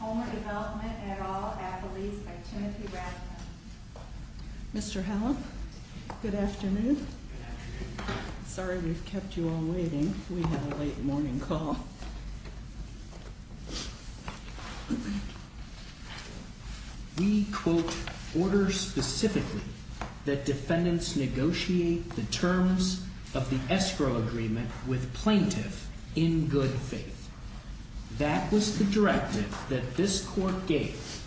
and Adderall Faculties, by Timothy Brackman. Mr. Howell, good afternoon. Sorry we've kept you all waiting. We had a late morning call. We quote, order specifically that defendants negotiate the terms of the escrow agreement with plaintiffs in good faith. That was the directive that this court gave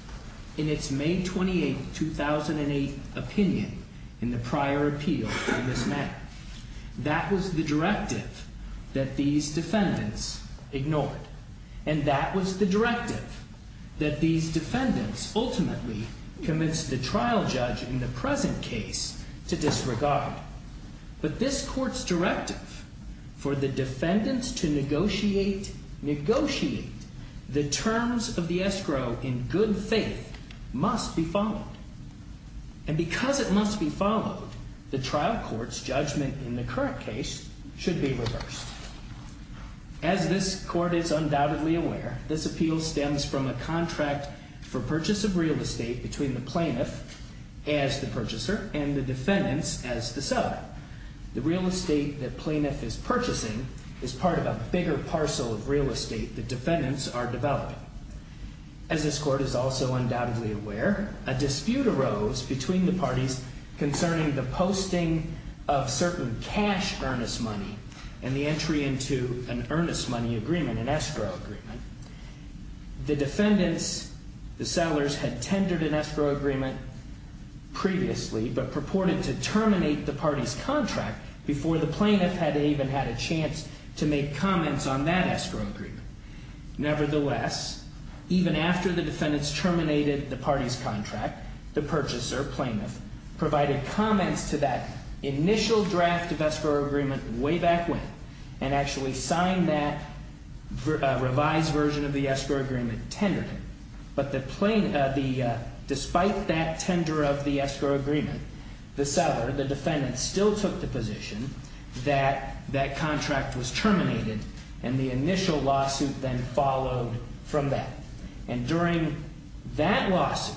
in its May 28, 2008 opinion in the prior appeal. That was the directive that these defendants ignored. And that was the directive that these defendants ultimately convinced the trial judge in the present case to disregard. But this court's directive for the defendants to negotiate the terms of the escrow in good faith must be followed. And because it must be followed, the trial court's judgment in the current case should be reversed. As this court is undoubtedly aware, this appeal stems from a contract for purchase of real estate between the plaintiff as the purchaser and the defendants as the sub. The real estate the plaintiff is purchasing is part of a bigger parcel of real estate the defendants are developing. As this court is also undoubtedly aware, a dispute arose between the parties concerning the posting of certain cash earnest money and the entry into an earnest money agreement, an escrow agreement. The defendants, the settlers, had tendered an escrow agreement previously but purported to terminate the party's contract before the plaintiff had even had a chance to make comments on that escrow agreement. Nevertheless, even after the defendants terminated the party's contract, the purchaser, plaintiff, provided comments to that initial draft of escrow agreement way back when and actually signed that revised version of the escrow agreement tender. But despite that tender of the escrow agreement, the settler, the defendant, still took the position that that contract was terminated and the initial lawsuit then followed from that. And during that lawsuit,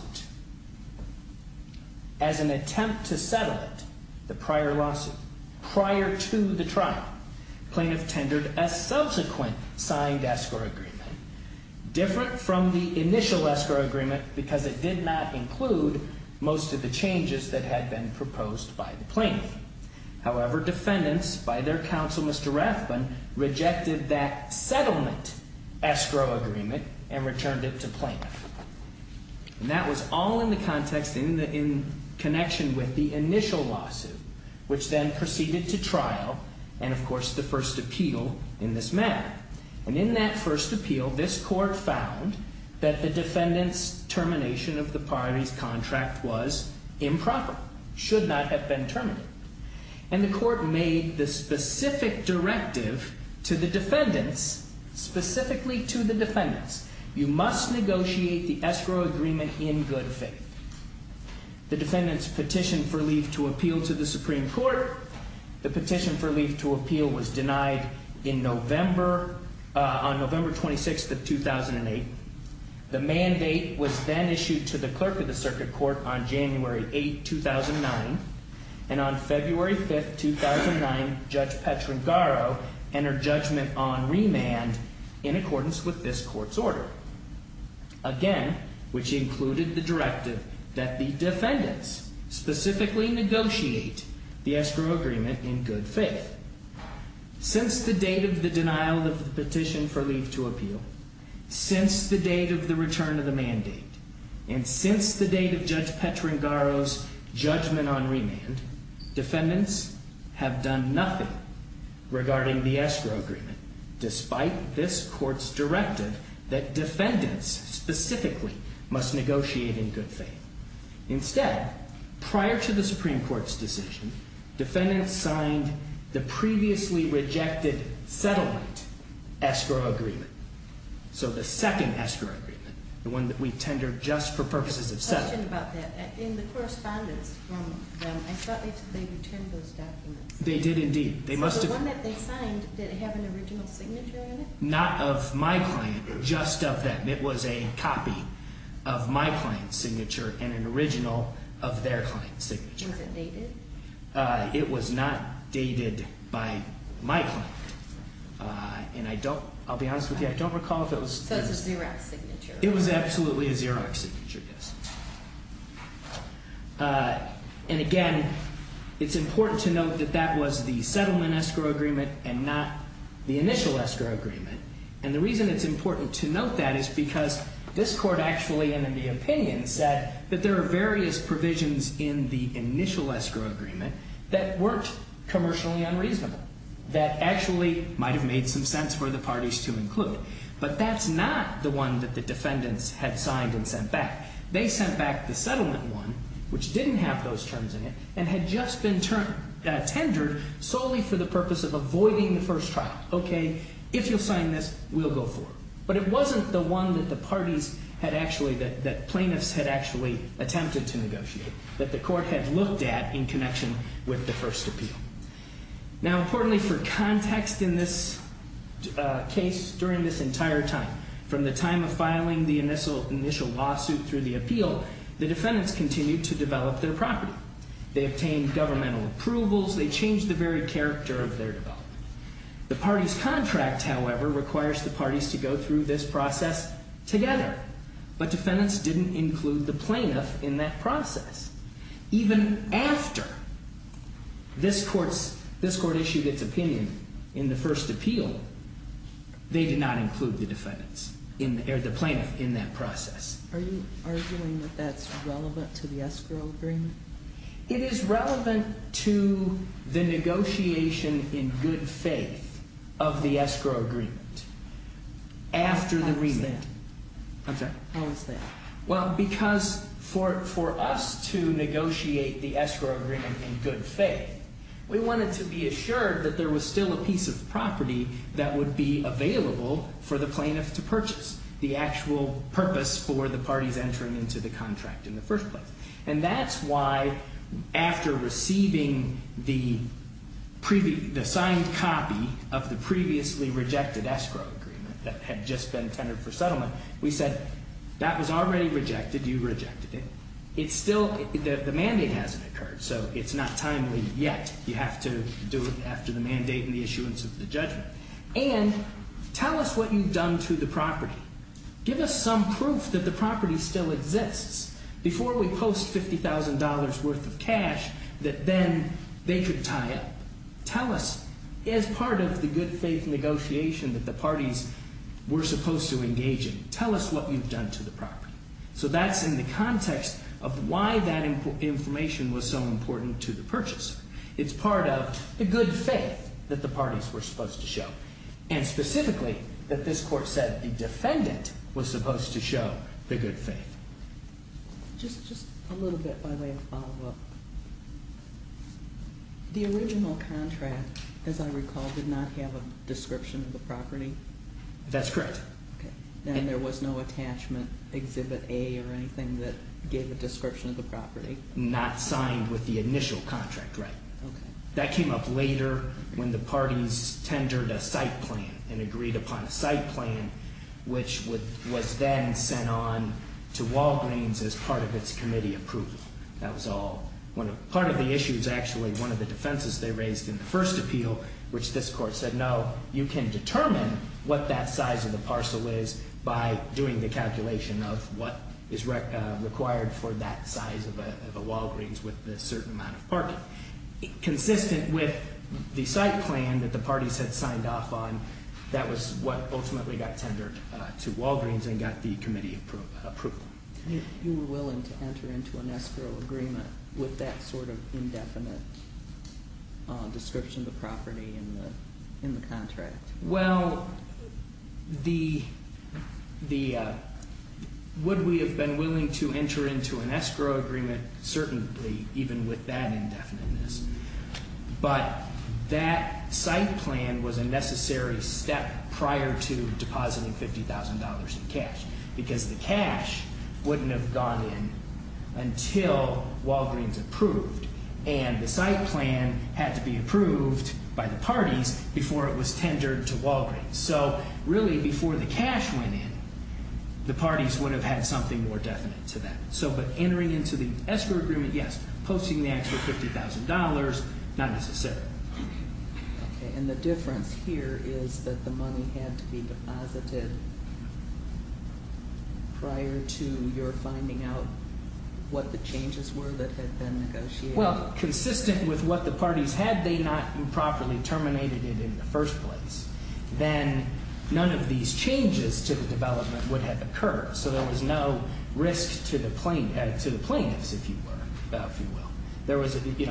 as an attempt to settle it, the prior lawsuit, prior to the trial, plaintiff tendered a subsequent signed escrow agreement, different from the initial escrow agreement because it did not include most of the changes that had been proposed by the plaintiff. However, defendants, by their counsel, Mr. Ratcliffe, rejected that settlement escrow agreement and returned it to plaintiffs. And that was all in the context in connection with the initial lawsuit, which then proceeded to trial and, of course, the first appeal in this matter. And in that first appeal, this court found that the defendant's termination of the party's contract was improper, should not have been terminated. And the court made the specific directive to the defendants, specifically to the defendants, you must negotiate the escrow agreement in good faith. The defendants petitioned for leave to appeal to the Supreme Court. The petition for leave to appeal was denied in November, on November 26th of 2008. The mandate was then issued to the clerk of the circuit court on January 8th, 2009. And on February 5th, 2009, Judge Petrancaro entered judgment on remand in accordance with this court's order. Again, which included the directive that the defendants specifically negotiate the escrow agreement in good faith. Since the date of the denial of the petition for leave to appeal, since the date of the return of the mandate, and since the date of Judge Petrancaro's judgment on remand, defendants have done nothing regarding the escrow agreement, despite this court's directive that defendants specifically must negotiate in good faith. Instead, prior to the Supreme Court's decision, defendants signed the previously rejected settlement escrow agreement. So the second escrow agreement, the one that we tendered just for purposes of settlement. I have a question about that. In the correspondence from them, I thought they did tend those documents. They did indeed. The one that they signed, did it have an original signature on it? Not of my client, just of that. It was a copy of my client's signature and an original of their client's signature. Was it dated? It was not dated by my client. And I don't, I'll be honest with you, I don't recall those. So it's a Xerox signature? It was absolutely a Xerox signature, yes. And again, it's important to note that that was the settlement escrow agreement and not the initial escrow agreement. And the reason it's important to note that is because this court actually, and in the opinion, said that there are various provisions in the initial escrow agreement that weren't commercially unreasonable, that actually might have made some sense for the parties to include. But that's not the one that the defendants had signed and sent back. They sent back the settlement one, which didn't have those terms in it, and had just been tendered solely for the purpose of avoiding the first trial. Okay, if you're signing this, we'll go for it. But it wasn't the one that the parties had actually, that plaintiffs had actually attempted to negotiate, that the court had looked at in connection with the first appeal. Now, importantly for context in this case, during this entire time, from the time of filing the initial lawsuit through the appeal, the defendants continued to develop their property. They obtained governmental approvals. They changed the very character of their development. The parties' contract, however, requires the parties to go through this process together. But defendants didn't include the plaintiffs in that process. Even after this court issued its opinion in the first appeal, they did not include the plaintiffs in that process. Are you arguing that that's relevant to the escrow agreement? It is relevant to the negotiation in good faith of the escrow agreement after the remand. Okay. Why is that? Well, because for us to negotiate the escrow agreement in good faith, we wanted to be assured that there was still a piece of property that would be available for the plaintiffs to purchase, the actual purpose for the parties entering into the contract in the first place. And that's why, after receiving the signed copy of the previously rejected escrow agreement that had just been tendered for settlement, we said, that was already rejected. You rejected it. The mandate hasn't occurred, so it's not timely yet. You have to do it after the mandate and the issuance of the judgment. And tell us what you've done to the property. Give us some proof that the property still exists before we post $50,000 worth of cash that then they could tie it. Tell us, as part of the good faith negotiation that the parties were supposed to engage in, tell us what you've done to the property. So that's in the context of why that information was so important to the purchase. It's part of the good faith that the parties were supposed to show. And specifically, that this court said the defendant was supposed to show the good faith. Just a little bit, my way of follow-up. The original contract, as I recall, did not have a description of the property? That's correct. And there was no attachment, exhibit A or anything that gave a description of the property? Not signed with the initial contract, right. That came up later when the parties tendered a site plan and agreed upon a site plan, which was then sent on to Walgreens as part of its committee of proof. That was all. Part of the issue is actually one of the defenses they raised in the first appeal, which this court said, no, you can determine what that size of the parcel is by doing the calculation of what is required for that size of a Walgreens with a certain amount of parking. Consistent with the site plan that the parties had signed off on, that was what ultimately got tendered to Walgreens and got the committee approval. If you were willing to enter into an escrow agreement with that sort of indefinite description of the property in the contract? Well, would we have been willing to enter into an escrow agreement? Certainly, even with that indefiniteness. But that site plan was a necessary step prior to depositing $50,000 in cash, because the cash wouldn't have gone in until Walgreens approved. And the site plan had to be approved by the parties before it was tendered to Walgreens. So really, before the cash went in, the parties would have had something more definite to that. But entering into the escrow agreement, yes, posting the extra $50,000, not necessarily. And the difference here is that the money had to be deposited prior to your finding out what the changes were that had been negotiated? Well, consistent with what the parties had, they not improperly terminated it in the first place. Then none of these changes to the development would have occurred. So there was no risk to the plaintiffs, if you will.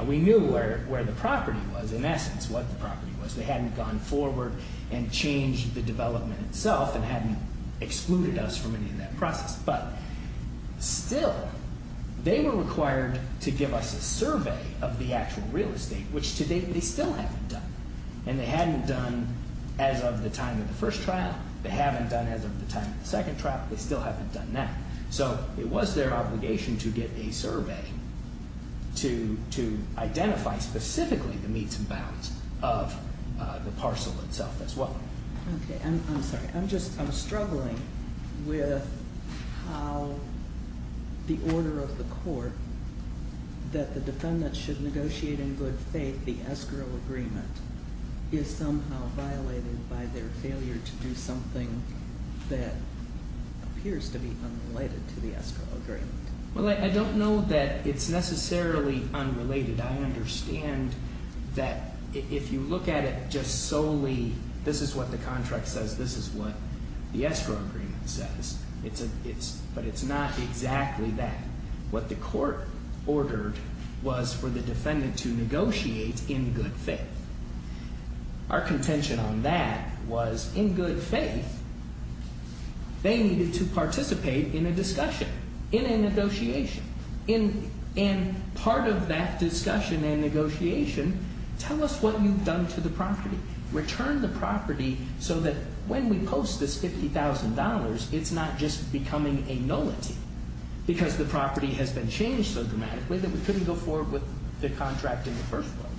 We knew where the property was, in essence, what the property was. They hadn't gone forward and changed the development itself and hadn't excluded us from entering that process. But still, they were required to give us a survey of the actual real estate, which to date they still haven't done. And they hadn't done as of the time of the first trial. They haven't done as of the time of the second trial, but they still haven't done that. So it was their obligation to get a survey to identify specifically the meets and bounds of the parcel itself as well. I'm struggling with how the order of the court that the defendants should negotiate in good faith the escrow agreement is somehow violated by their failure to do something that appears to be unrelated to the escrow agreement. Well, I don't know that it's necessarily unrelated. I understand that if you look at it just solely, this is what the contract says, this is what the escrow agreement says. But it's not exactly what the court ordered was for the defendant to negotiate in good faith. Our contention on that was, in good faith, they needed to participate in a discussion, in a negotiation. And part of that discussion and negotiation, tell us what you've done to the property. Return the property so that when we post this $50,000, it's not just becoming a nullity because the property has been changed so dramatically that we couldn't go forward with the contract in the first place.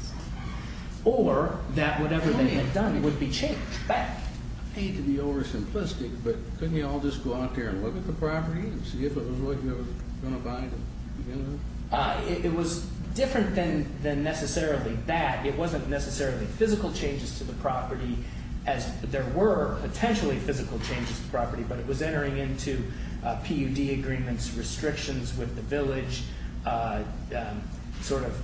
Or that whatever they had done would be changed. I hate to be over-simplistic, but couldn't you all just go out there and look at the property and see if it was really going to violate it? It was different than necessarily that. There were potentially physical changes to the property, but it was entering into PUD agreements, restrictions with the village, sort of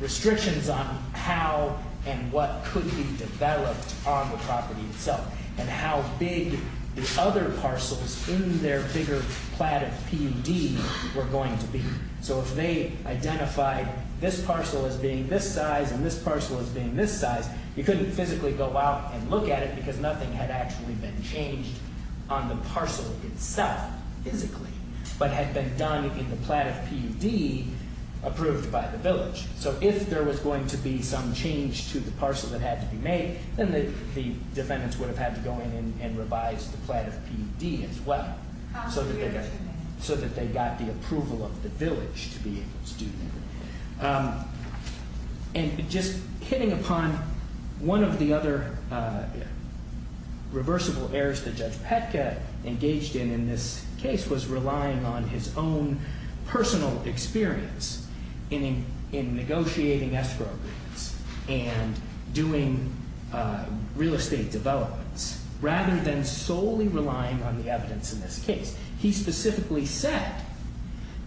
restrictions on how and what could be developed on the property itself. And how big the other parcels in their figure plat of PUDs were going to be. So if they identified this parcel as being this size and this parcel as being this size, you couldn't physically go out and look at it because nothing had actually been changed on the parcel itself physically. But had been done in the plat of PUD approved by the village. So if there was going to be some change to the parcel that had to be made, then the defendants would have had to go in and revise the plat of PUD as well. So that they got the approval of the village to be able to do that. And just hitting upon one of the other reversible errors that Judge Petka engaged in in this case was relying on his own personal experience in negotiating escrow agreements and doing real estate developments rather than solely relying on the evidence in this case. He specifically said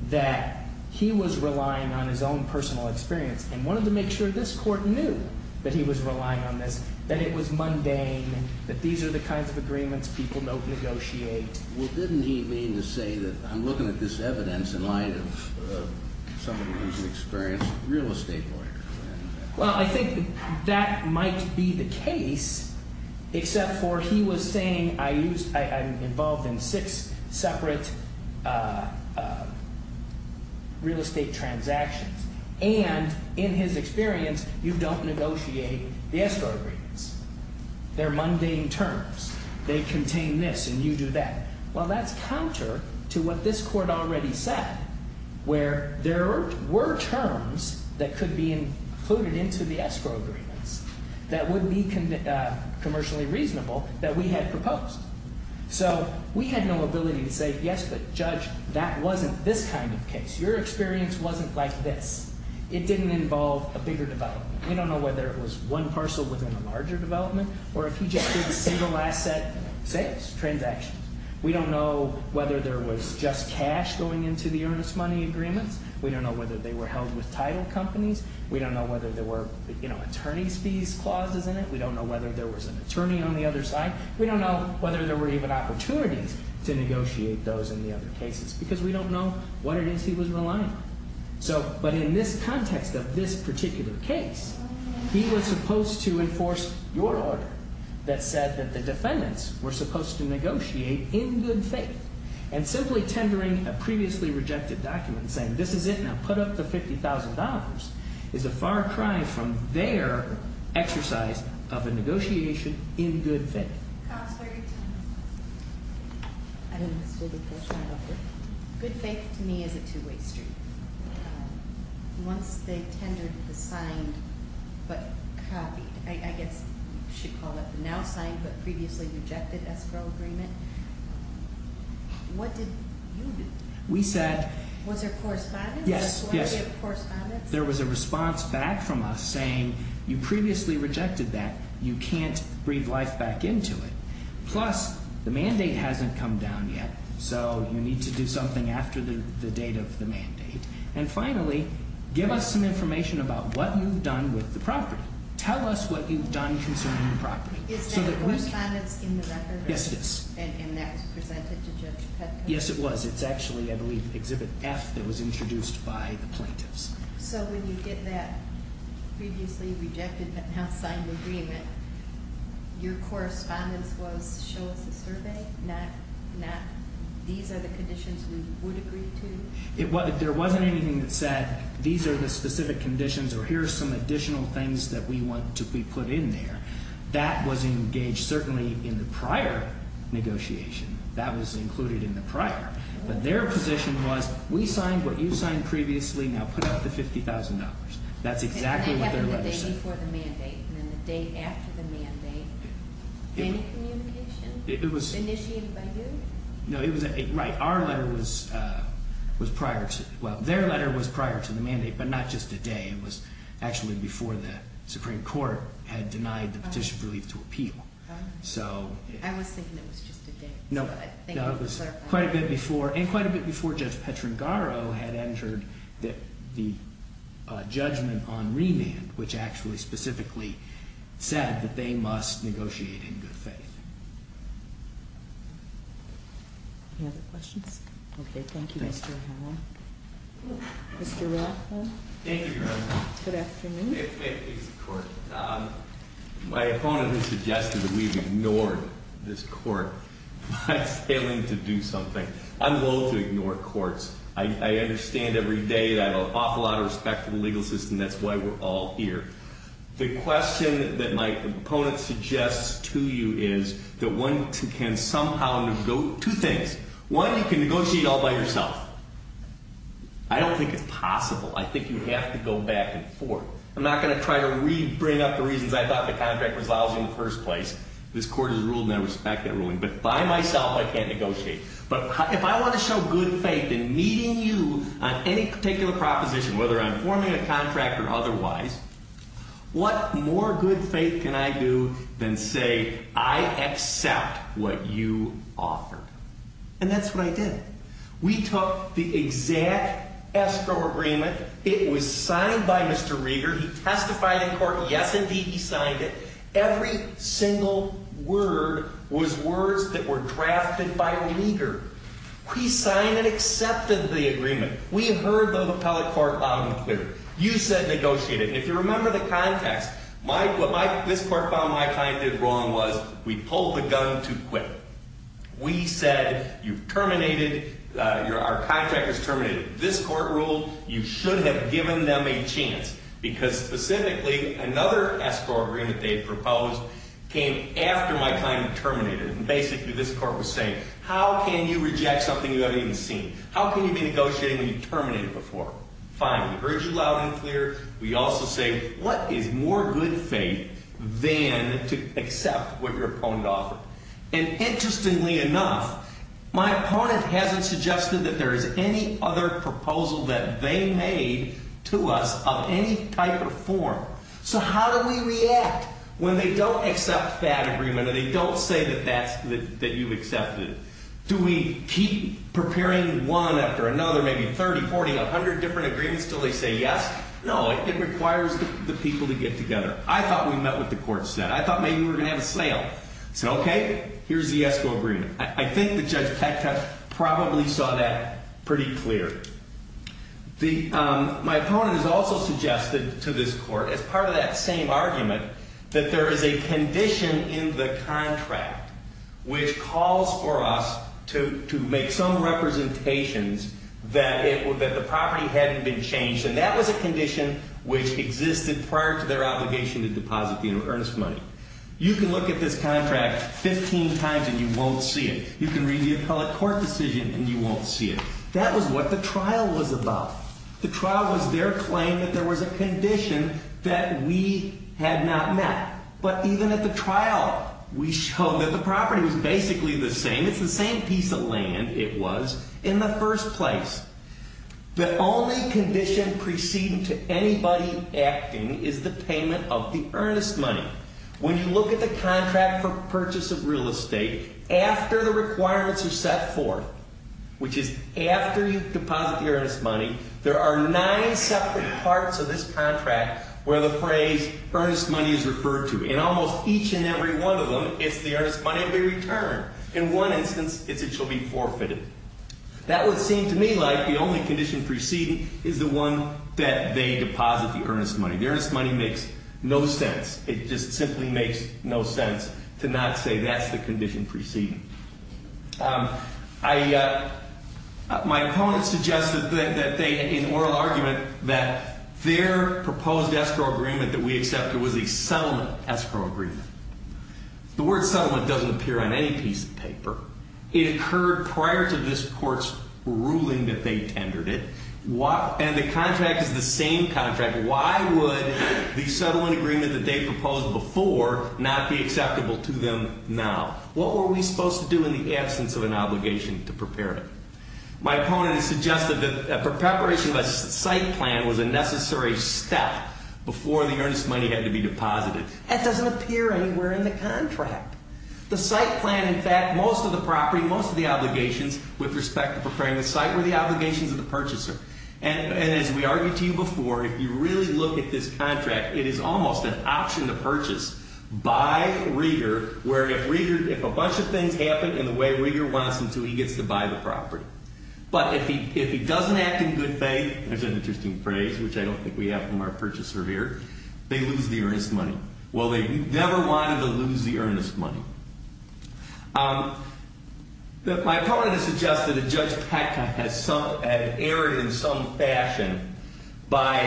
that he was relying on his own personal experience and wanted to make sure this court knew that he was relying on this. That it was mundane, that these are the kinds of agreements that people don't negotiate. Well didn't he mean to say that I'm looking at this evidence in line with someone who's an experienced real estate lawyer? Well I think that might be the case, except for he was saying I'm involved in six separate real estate transactions. And in his experience, you don't negotiate the escrow agreements. They're mundane terms. They contain this and you do that. Well that's counter to what this court already said where there were terms that could be included into the escrow agreement that would be commercially reasonable that we had proposed. So we had no ability to say yes, but Judge, that wasn't this kind of case. Your experience wasn't like this. It didn't involve a bigger development. We don't know whether it was one parcel within a larger development or if he just did a single asset transaction. We don't know whether there was just cash going into the earnest money agreement. We don't know whether they were held with title companies. We don't know whether there were attorney's fees clauses in it. We don't know whether there was an attorney on the other side. We don't know whether there were even opportunities to negotiate those in the other cases because we don't know what it is he was relying on. But in this context of this particular case, he was supposed to enforce your order that said that the defendants were supposed to negotiate in good faith. And simply tendering a previously rejected document saying this is it, now put up the $50,000 is a far cry from their exercise of the negotiation in good faith. I have a question about this. Good faith to me is a two-way street. Once they tendered the now-climbed but previously rejected escrow agreement, what did you do? Was there correspondence? Yes, yes. There was a response back from us saying you previously rejected that. You can't breathe life back into it. Plus, the mandate hasn't come down yet. So, you need to do something after the date of the mandate. And finally, give us some information about what you've done with the property. Tell us what you've done concerning the property. Is that correspondence in the record? Yes, yes. And that was presented to judges? Yes, it was. It's actually, I believe, Exhibit F that was introduced by the plaintiffs. So, when you get that previously rejected house signed agreement, your correspondence will show up in the survey? These are the conditions we would agree to? If there wasn't anything that said, these are the specific conditions or here are some additional things that we want to be put in there, that was engaged certainly in the prior negotiation. That was included in the prior. But their position was, we signed what you signed previously, now put up the $50,000. That's exactly what their letter said. And that happened the day before the mandate and then the day after the mandate? Any communication? It was... Initiated by who? No, it was... Right. Our letter was prior to... Well, their letter was prior to the mandate, but not just today. It was actually before the Supreme Court had denied the petitioner's ability to appeal. So... I was thinking it was just today. No. No, it was quite a bit before, and quite a bit before Judge Petrangaro had entered the judgment on remand, which actually specifically said that they must negotiate in good faith. Any other questions? Okay, thank you, Mr. Hall. Mr. Ratcliffe. Thank you, Your Honor. Good afternoon. My opponent has suggested that we've ignored this court by failing to do something. I'm willing to ignore courts. I understand every day that I have an awful lot of respect for the legal system. That's why we're all here. The question that my opponent suggests to you is that one can somehow... Two things. One, you can negotiate all by yourself. I don't think it's possible. I think you have to go back and forth. I'm not going to try to re-bring up the reasons I thought the contract was valid in the first place. This court has ruled and I respect that ruling. But by myself, I can't negotiate. But if I want to show good faith in meeting you on any particular proposition, whether I'm forming a contract or otherwise, what more good faith can I do than say, I accept what you offer? And that's what I did. We took the exact escrow agreement. It was signed by Mr. Rieger. He testified in court. Yes, indeed, he signed it. Every single word was words that were drafted by Rieger. He signed and accepted the agreement. We heard those appellate court documents clearly. You said negotiate it. If you remember the context, what this court found my client did wrong was we pulled the gun too quick. We said you terminated, our contract was terminated. This court ruled you shouldn't have given them a chance. Because specifically, another escrow agreement they proposed came after my client terminated. Basically, this court was saying, how can you reject something you haven't even seen? How can you be negotiating when you've terminated before? Finally, we heard you loud and clear. We also say, what is more good faith than to accept what your opponent offers? Interestingly enough, my opponent hasn't suggested that there is any other proposal that they made to us of any type or form. So how do we react when they don't accept that agreement and they don't say that you've accepted it? Do we keep preparing one after another, maybe 30, 40, 100 different agreements until they say yes? No, it requires the people to get together. I thought we met what the court said. I thought maybe we were going to have a sale. OK, here's the escrow agreement. I think the judge probably saw that pretty clear. My opponent has also suggested to this court, as part of that same argument, that there is a condition in the contract, which calls for us to make some representations that the property hasn't been changed. And that was a condition which existed prior to their obligation to deposit the earnest money. You can look at this contract 15 times and you won't see it. You can read the appellate court decision and you won't see it. That was what the trial was about. The trial was their claim that there was a condition that we had not met. But even at the trial, we showed that the property was basically the same. It's the same piece of land it was in the first place. The only condition preceding to anybody acting is the payment of the earnest money. When you look at the contract for purchase of real estate, after the requirements are set forth, which is after you deposit the earnest money, there are nine separate parts of this contract where the phrase earnest money is referred to. And almost each and every one of them, if there is money to be returned. In one instance, it shall be forfeited. That would seem to me like the only condition preceding is the one that they deposit the earnest money. The earnest money makes no sense. It just simply makes no sense to not say that's the condition preceding. My opponent suggested that they, in oral argument, that their proposed escrow agreement that we accepted was a settlement escrow agreement. It occurred prior to this court's ruling that they tendered it. And the contract is the same contract. Why would the settlement agreement that they proposed before not be acceptable to them now? What were we supposed to do in the absence of an obligation to prepare it? My opponent suggested that the preparation of a site plan was a necessary step before the earnest money had to be deposited. That doesn't appear anywhere in the contract. The site plan, in fact, most of the property, most of the obligations with respect to preparing the site were the obligations of the purchaser. And as we argued to you before, if you really look at this contract, it is almost an option to purchase by Reeder where Reeder, if a bunch of things happen in the way Reeder wants them to, he gets to buy the property. But if he doesn't act in good faith, that's an interesting phrase, which I don't think we have from our purchaser here, they lose the earnest money. Well, they never wanted to lose the earnest money. My opponent has suggested that Judge Peck has erred in some fashion by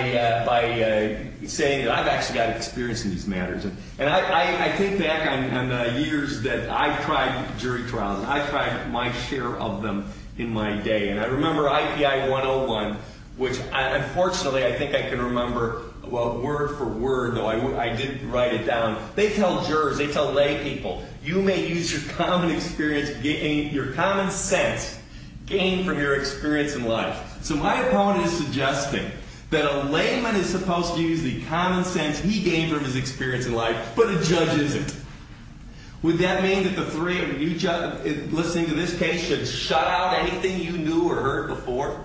saying that I've actually got experience in these matters. And I think back on the years that I tried jury trials, I tried my share of them in my day. And I remember IPI 101, which unfortunately I think I can remember word for word, although I didn't write it down, they tell jurors, they tell lay people, you may use your common experience, your common sense gained from your experience in life. So my opponent is suggesting that a layman is supposed to use the common sense he gained from his experience in life to put a judge in there. Would that mean that the three of you just listening to this case have shut out anything you knew or heard before?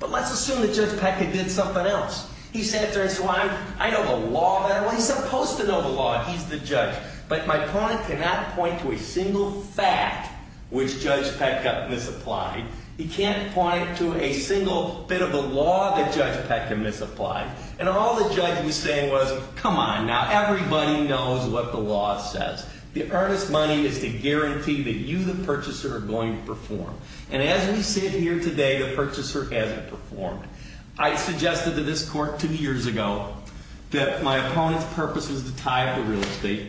Well, let's assume that Judge Peck has did something else. He sat there and said, well, I know the law better. Well, he's not supposed to know the law. He's the judge. But my opponent cannot point to a single fact which Judge Peck has misapplied. He can't point to a single bit of the law that Judge Peck has misapplied. And all the judge was saying was, come on, now everybody knows what the law says. The earnest money is the guarantee that you, the purchaser, are going to perform. And as we sit here today, the purchaser hasn't performed. I suggested to this court two years ago that my opponent's purpose was to tie it to real estate.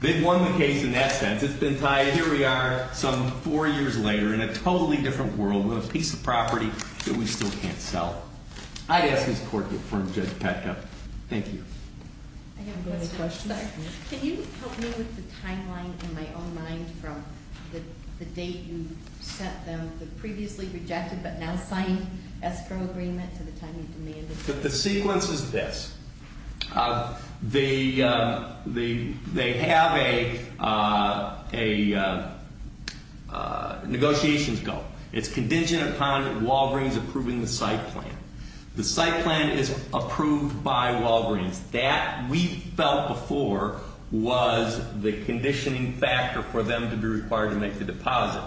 They've won the case, and that's it. It's been tied, and here we are some four years later in a totally different world with a piece of property that we still can't sell. I ask this court to affirm Judge Peck. Thank you. I didn't have any questions. Can you help me with the timelines in my own mind from the date you sent them The sequence is this. They have a negotiations goal. It's contingent upon Walgreens approving the site plan. The site plan is approved by Walgreens. That, we felt before, was the conditioning factor for them to be required to make the deposit.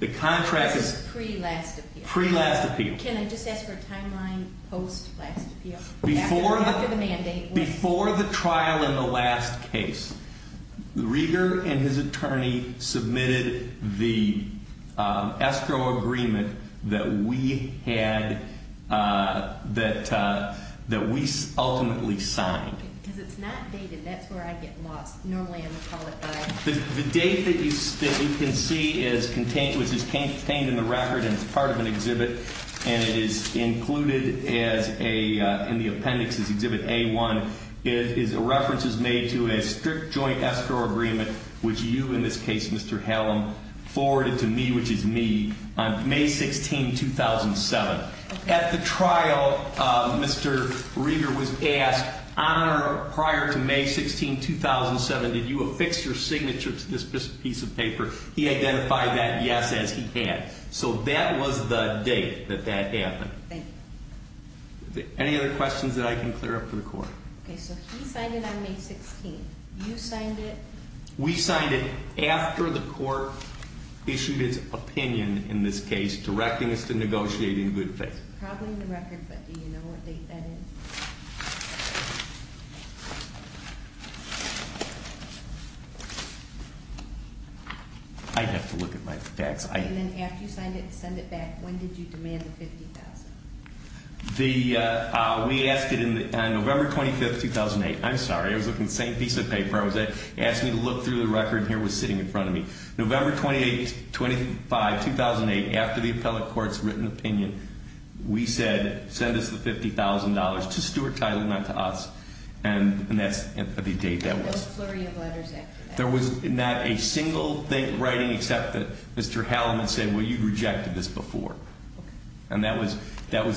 The contract is pre-last appeal. Can I just ask for a timeline post-last appeal? Before the trial in the last case, Reeder and his attorney submitted the escrow agreement that we ultimately signed. Because it's not dated. That's where I get lost. No way I'm going to follow through. The date that you can see is contained in the record and is part of an exhibit, and it is included in the appendix of Exhibit A-1. The reference is made to a strict joint escrow agreement, which you, in this case, Mr. Hallam, forwarded to me, which is me, on May 16, 2007. At the trial, Mr. Reeder was asked prior to May 16, 2007, did you affix your signature to this piece of paper? He identified that yes, and he can. So that was the date that that happened. Okay. Any other questions that I can clear up for the court? Okay. So he signed it on May 16. You signed it? We signed it after the court issued its opinion, in this case, directing us to negotiate in good faith. Probably in the record, but do you know what date that is? I'd have to look at my facts. After you signed it and sent it back, when did you demand the $50,000? We asked it on November 25, 2008. I'm sorry. It was the same piece of paper. I was asked to look through the record, and here it was sitting in front of me. November 28, 2005, 2008, after the appellate court's written opinion, we said send us the $50,000. It's a steward title, not to us, and that's the date that was. There was no flurry of letters after that. There was not a single thing in writing except that Mr. Hallam had said, well, you rejected this before. And that was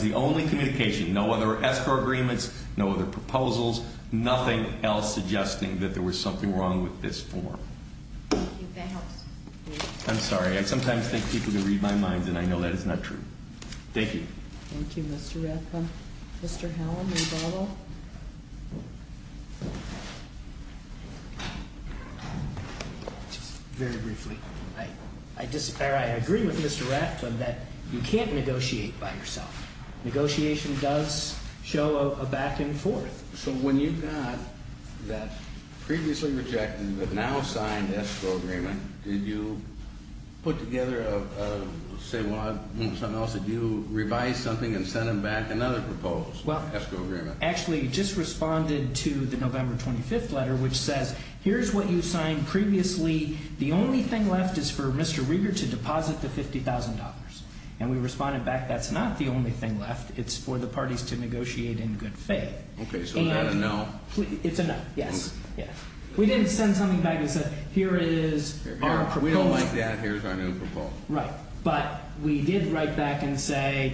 the only communication. No other escrow agreements, no other proposals, nothing else. Nothing else suggesting that there was something wrong with this form. I'm sorry. I sometimes think people can read my mind, and I know that is not true. Thank you. Thank you, Mr. Ratcliffe. Mr. Hallam, rebuttal. I agree with Mr. Ratcliffe that you can't negotiate by yourself. Negotiation does show a back and forth. So when you found that previously rejected but now signed escrow agreement, did you put together a say what, something else? Did you revise something and send them back another proposed escrow agreement? Actually, just responded to the November 25th letter, which says, here's what you signed previously. The only thing left is for Mr. Reeder to deposit the $50,000. And we responded back, that's not the only thing left. It's for the parties to negotiate in good faith. Okay, so it's a no. It's a no, yes. We didn't send something back and say, here is our proposal. We don't like that. Here's our new proposal. Right. But we did write back and say,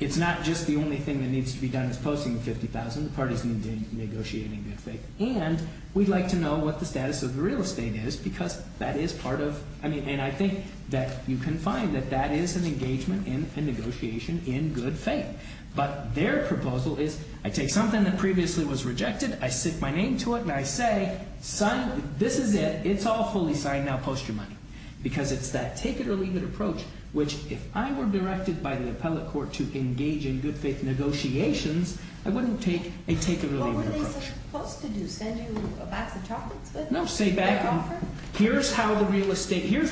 it's not just the only thing that needs to be done is posting the $50,000. The parties need to negotiate in good faith. And we'd like to know what the status of the real estate is, because that is part of – and I think that you can find that that is an engagement and negotiation in good faith. But their proposal is, I take something that previously was rejected, I stick my name to it, and I say, son, this is it. It's all fully signed. Now post your money. Because it's that take-it-or-leave-it approach, which if I were directed by the appellate court to engage in good faith negotiations, I wouldn't take a take-it-or-leave-it approach. What were they supposed to do? Send you back to talk with them? No, say back to them, here's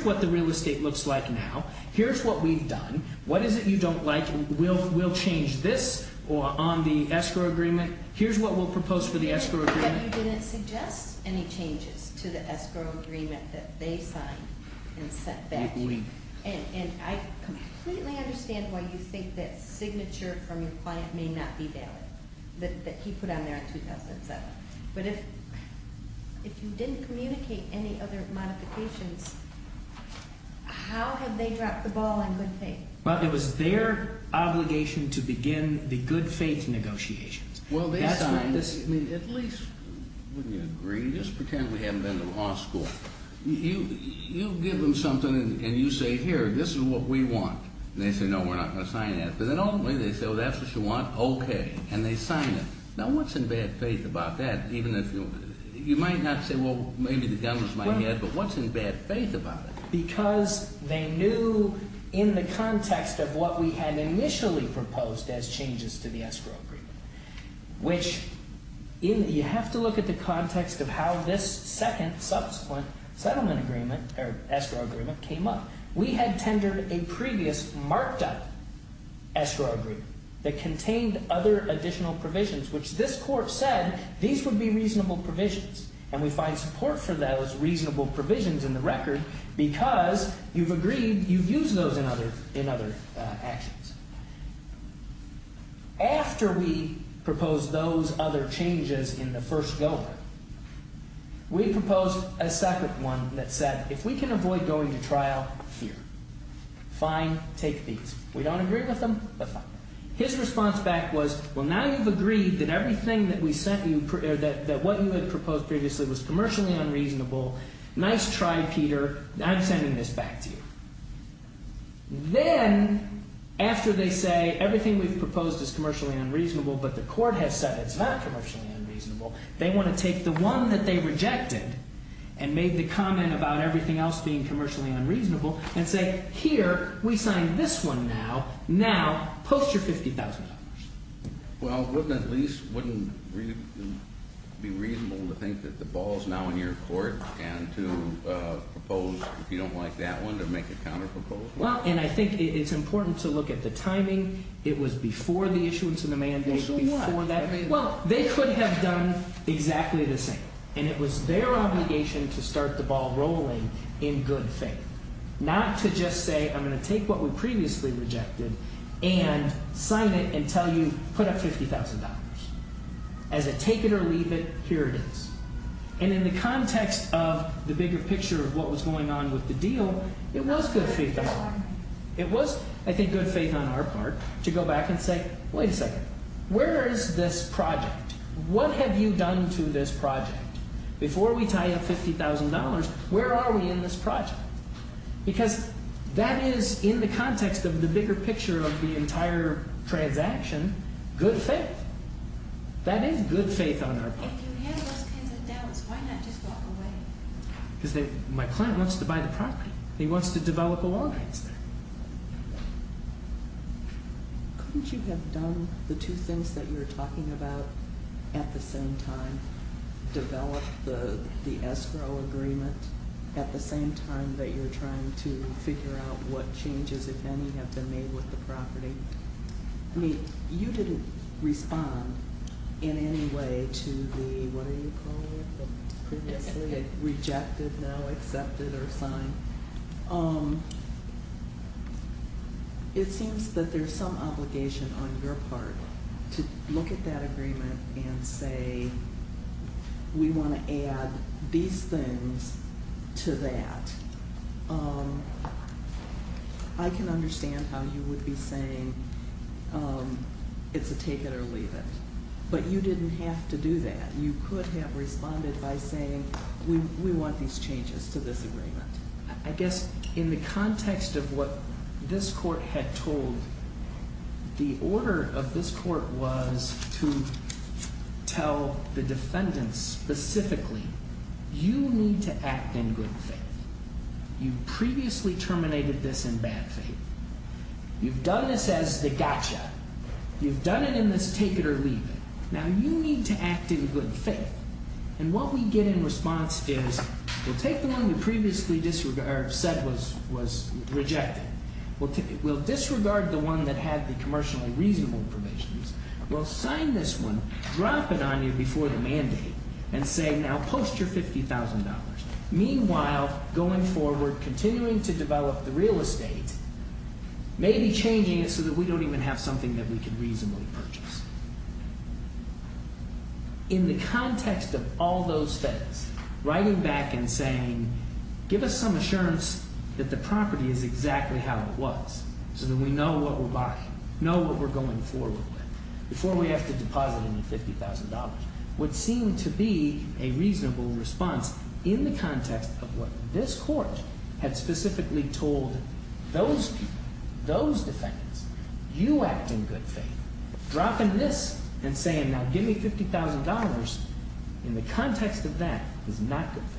what the real estate looks like now. Here's what we've done. What is it you don't like? We'll change this on the escrow agreement. Here's what we'll propose for the escrow agreement. You didn't suggest any changes to the escrow agreement that they signed and sent back. And I completely understand why you think that signature from your client may not be there, that he put on there in 2007. But if you didn't communicate any other modifications, how have they dropped the ball on good faith? Well, it was their obligation to begin the good faith negotiations. Well, at least we agree. Just pretend we haven't been to law school. You give them something and you say, here, this is what we want. And they say, no, we're not going to sign that. But then ultimately they say, oh, that's what you want? Okay. And they sign that. Now what's in bad faith about that? You might not say, well, maybe the devil's in my head, but what's in bad faith about that? Because they knew in the context of what we had initially proposed as changes to the escrow agreement, which you have to look at the context of how this second subsequent settlement agreement, or escrow agreement, came up. We had tendered a previous marked-up escrow agreement that contained other additional provisions, which this court said these would be reasonable provisions. And we find support for those reasonable provisions in the record, because you've agreed you've used those in other actions. After we proposed those other changes in the first go-around, we proposed a second one that said, if we can avoid going to trial here, fine, take these. We don't agree with them? His response back was, well, now you've agreed that everything that we sent you, that wasn't proposed previously, was commercially unreasonable. Nice try, Peter. I'm sending this back to you. Then, after they say everything we've proposed is commercially unreasonable, but the court has said it's not commercially unreasonable, they want to take the one that they rejected and made the comment about everything else being commercially unreasonable and say, Peter, we signed this one now. Now post your $50,000. Well, wouldn't it at least be reasonable to think that the ball is now in your court and to propose, if you don't like that one, to make a comment proposal? Well, and I think it's important to look at the timing. It was before the issuance of the mandate, before that. Well, they could have done exactly the same, and it was their obligation to start the ball rolling in good faith, not to just say, I'm going to take what we previously rejected and sign it and tell you, put up $50,000. As a take it or leave it period. And in the context of the bigger picture of what was going on with the deal, it was good faith on our part. It was, I think, good faith on our part to go back and say, wait a second. Where is this project? What have you done to this project? Before we tie up $50,000, where are we in this project? Because that is, in the context of the bigger picture of the entire transaction, good faith. That is good faith on our part. To say, my son wants to buy the property. He wants to develop a lawn. You didn't follow the SRO agreement at the same time that you're trying to figure out what changes, if any, have been made with the property. I mean, you didn't respond in any way to the, what do you call it, the rejected, no, accepted, or signed. It seems that there's some obligation on your part to look at that agreement and say, we want to add these things to that. I can understand how you would be saying, it's a take it or leave it. But you didn't have to do that. You could have responded by saying, we want these changes to this agreement. I guess, in the context of what this court had told, the order of this court was to tell the defendants specifically, you need to act in good faith. You've previously terminated this in bad faith. You've done this as the gotcha. You've done it in this take it or leave it. Now, you need to act in good faith. And what we get in response is, the take the one you previously said was rejected. We'll disregard the one that has the commercially reasonable permissions. We'll sign this one, drop it on you before the mandate, and say, now post your $50,000. Meanwhile, going forward, continuing to develop the real estate, maybe changing it so that we don't even have something that we can reasonably purchase. In the context of all those steps, writing back and saying, give us some assurance that the property is exactly how it was, so that we know what we're buying, know what we're going forward with, before we have to deposit $50,000, would seem to be a reasonable response in the context of what this court had specifically told those defendants. You act in good faith. Dropping this and saying, now give me $50,000, in the context of that, is not good faith.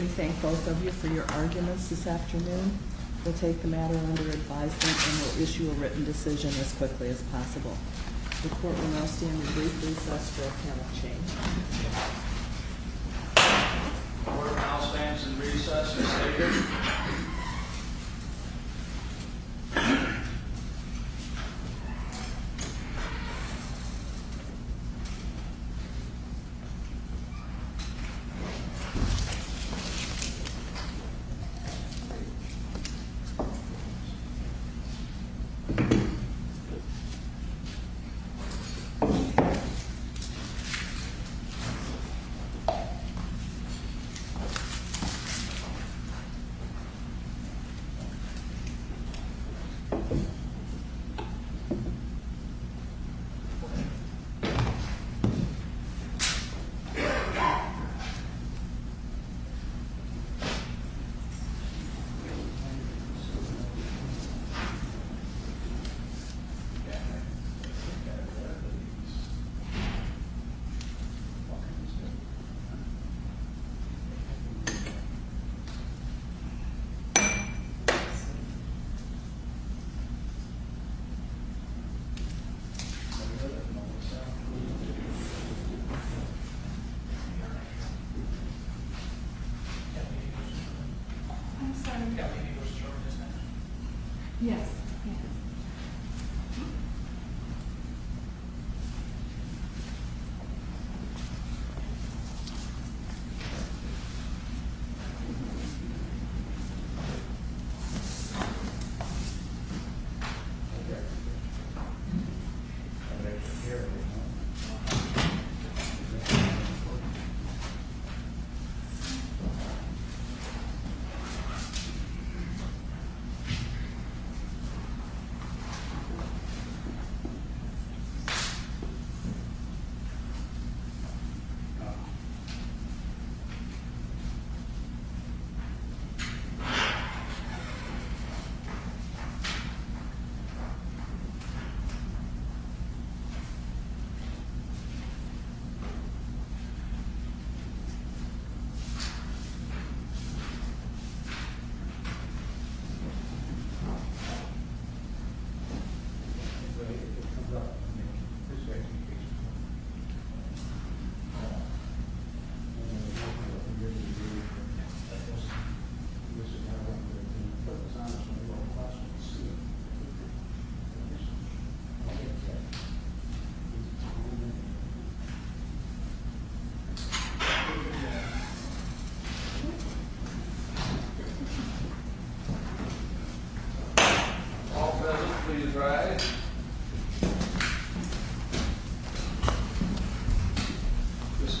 We thank both of you for your arguments this afternoon. We'll take the matter under advisement, and we'll issue a written decision as quickly as possible. The court will not be in a good place to ask for a final change. I'll stand to the recess, Mr. Speaker.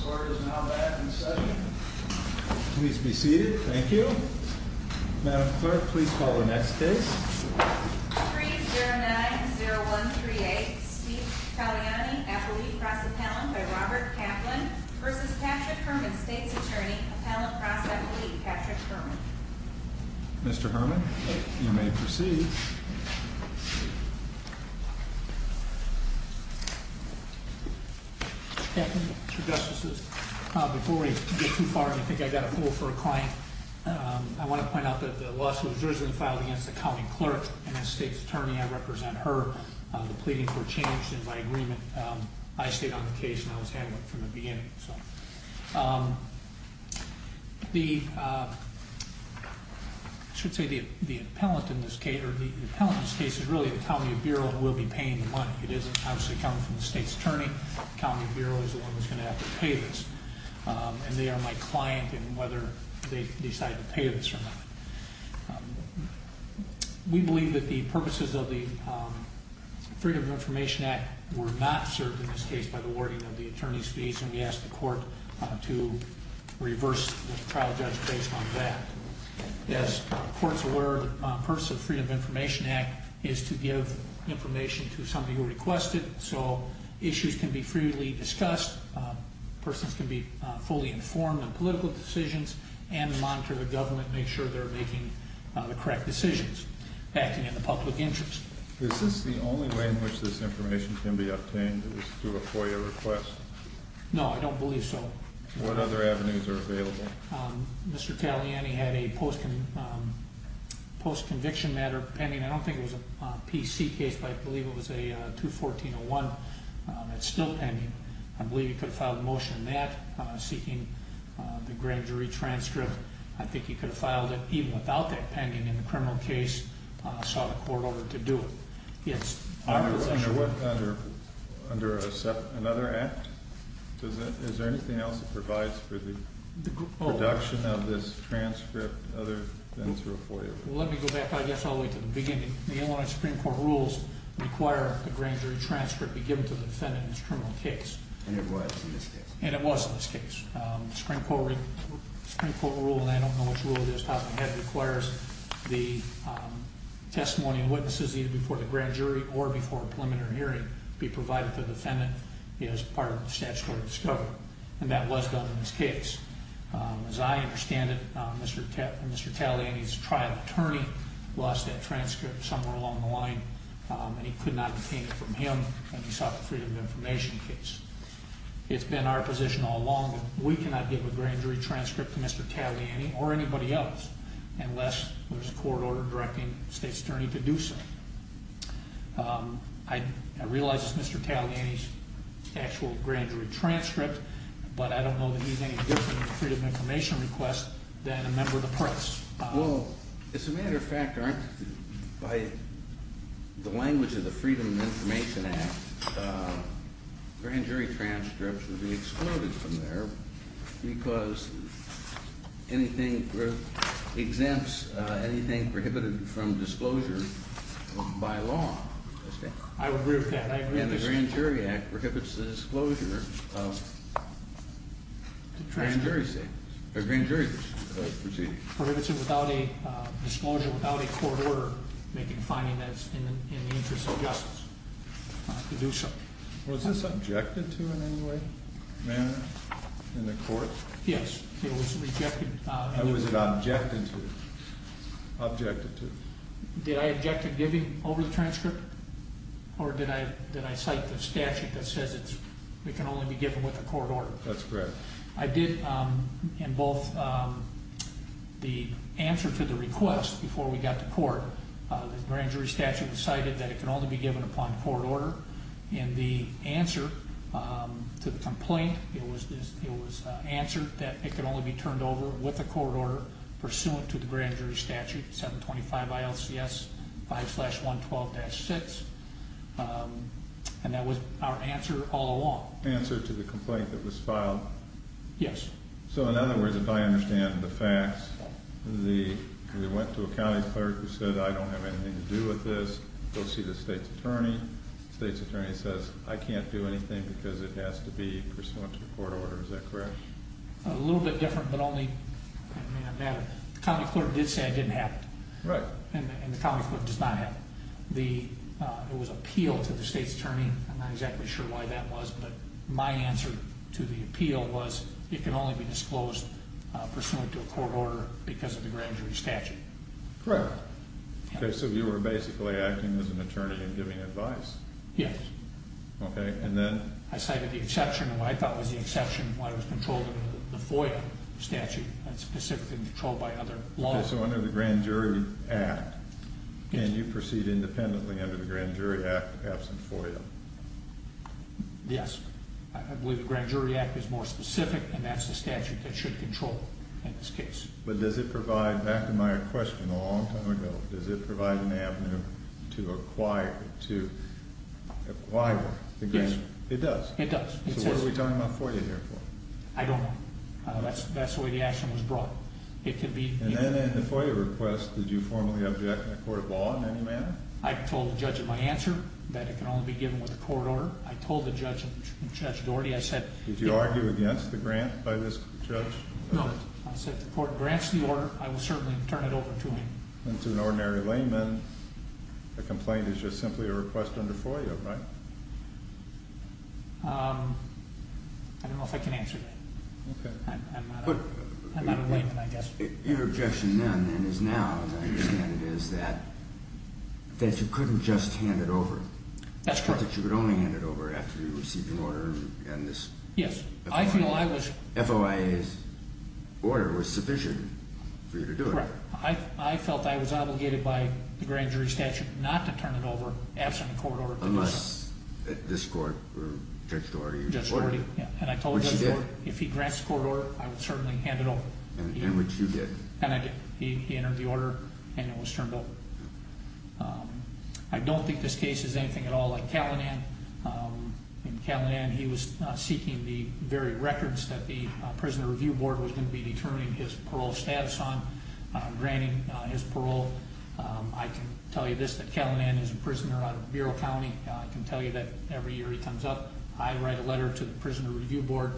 Thank you. Thank you. Thank you. Thank you. Thank you. Good evening, Mr. Chairman. All desks please rise. This clerk is now back in session. Please be seated. Thank you. Madam Clerk, please call the next case. Mr. Herman, you may proceed. Before we get too far, I think I've got a rule for a client. I want to point out that the law student who is in this filing is the county clerk and the state's attorney. I represent her. I'm pleading for a change to my agreement. I stayed on the case and I was handling it from the beginning. The appellant in this case is really the county bureau and we'll be paying the money. It is obviously coming from the state's attorney. The county bureau is the one that's going to have to pay this. And they are my client in whether they decide to pay this or not. We believe that the purposes of the Freedom of Information Act were not served in this case by the wording of the attorney's fees. And we ask the court to reverse the process based on that. As the court's word, the purpose of the Freedom of Information Act is to give information to somebody who requested it. So issues can be freely discussed. Persons can be fully informed on political decisions and the monetary government make sure they're making the correct decisions. That can be in the public interest. Is this the only way in which this information can be obtained is through a FOIA request? No, I don't believe so. What other avenues are available? Mr. Taliani had a post-conviction matter pending. I don't think it was a PC case, but I believe it was a 214-01. It's still pending. I believe he could file a motion on that, seeking the grand jury transcript. I think he could have filed it even without that pending in a criminal case and sought a court order to do it. Yes? Under another act? Is there anything else that provides for the production of this transcript and other things through a FOIA? Let me go back, I guess, all the way to the beginning. The only Supreme Court rules require that the grand jury transcript be given to the defendant in a criminal case. And it was in this case. The Supreme Court rule, and I don't know which rule it is, requires the testimony of witnesses, either before the grand jury or before a permanent hearing, be provided to the defendant as part of the statutory discovery. And that was one in this case. As I understand it, Mr. Taliani's trial attorney lost that transcript somewhere along the line, and he could not obtain it from him and he sought the Freedom of Information case. It's been our position all along that we cannot give a grand jury transcript to Mr. Taliani or anybody else unless there's a court order directing the state's attorney to do so. I realize it's Mr. Taliani's actual grand jury transcript, but I don't know that he has any different Freedom of Information request than a member of the press. Well, as a matter of fact, by the language of the Freedom of Information Act, grand jury transcripts would be excluded from there because it exempts anything prohibited from disclosure by law. I agree with that. And the Grand Jury Act prohibits the disclosure of grand jury transcripts. It prohibits disclosure without a court order defining that's in the interest of justice. Was this objected to in any way? In the court? Yes, it was rejected. Who was it objected to? Did I object to giving over the transcript? Or did I cite the statute that says it can only be given with a court order? That's correct. I did, in both the answer to the request before we got to court, the grand jury statute decided that it can only be given upon court order, and the answer to the complaint, it was answered that it can only be turned over with a court order pursuant to the grand jury statute, 725 ILCS 5-112-6, and that was our answer all along. The answer to the complaint that was filed? Yes. So, in other words, if I understand the facts, they went to a county clerk who said, I don't have anything to do with this, goes to the state's attorney, the state's attorney says, I can't do anything because it has to be pursuant to a court order. Is that correct? A little bit different, but the county clerk did say it didn't happen, and the county clerk does not have it. It was appealed to the state's attorney. I'm not exactly sure why that was, but my answer to the appeal was it can only be disclosed pursuant to a court order because of the grand jury statute. Correct. Okay, so you were basically acting as an attorney and giving advice? Yes. Okay, and then? I cited the exception, and what I thought was the exception was why it was controlled under the FOIA statute, not specifically controlled by other laws. Okay, so under the Grand Jury Act, can you proceed independently under the Grand Jury Act without some FOIA? Yes. I believe the Grand Jury Act is more specific, and that's the statute that should control it in this case. But does it provide, back to my question a long time ago, does it provide an avenue to acquire the grant? Yes. It does? It does. So what are we talking about FOIA here for? I don't know. That's the way the action was brought. And then in the FOIA request, did you formally object to the court of law in any manner? I told the judge of my answer that it can only be given with a court order. I told the judge and Judge Gordy. Did you argue against the grant by this judge? No, I said if the court grants the order, I will certainly turn it over to him. And to an ordinary layman, a complaint is just simply a request under FOIA, right? I don't know if I can answer that. Okay. I'm not a layman, I guess. Your objection then, and is now, is that you couldn't just hand it over. That's correct. You could only hand it over after you receive the order and this. Yes. FOIA's order was sufficient for you to do it. Right. I felt I was obligated by the grand jury statute not to turn it over after the court order. Unless this court takes the order you just ordered. And I told Judge Gordy if he grants the court order, I would certainly hand it over. And which you did. And I did. He entered the order, and it was turned over. I don't think this case is anything at all like Calinan. In Calinan, he was seeking the buried records that the Prisoner Review Board was going to be determining his parole status on, granting his parole. I can tell you this, that Calinan is a prisoner on Bureau County. I can tell you that every year he comes up, I write a letter to the Prisoner Review Board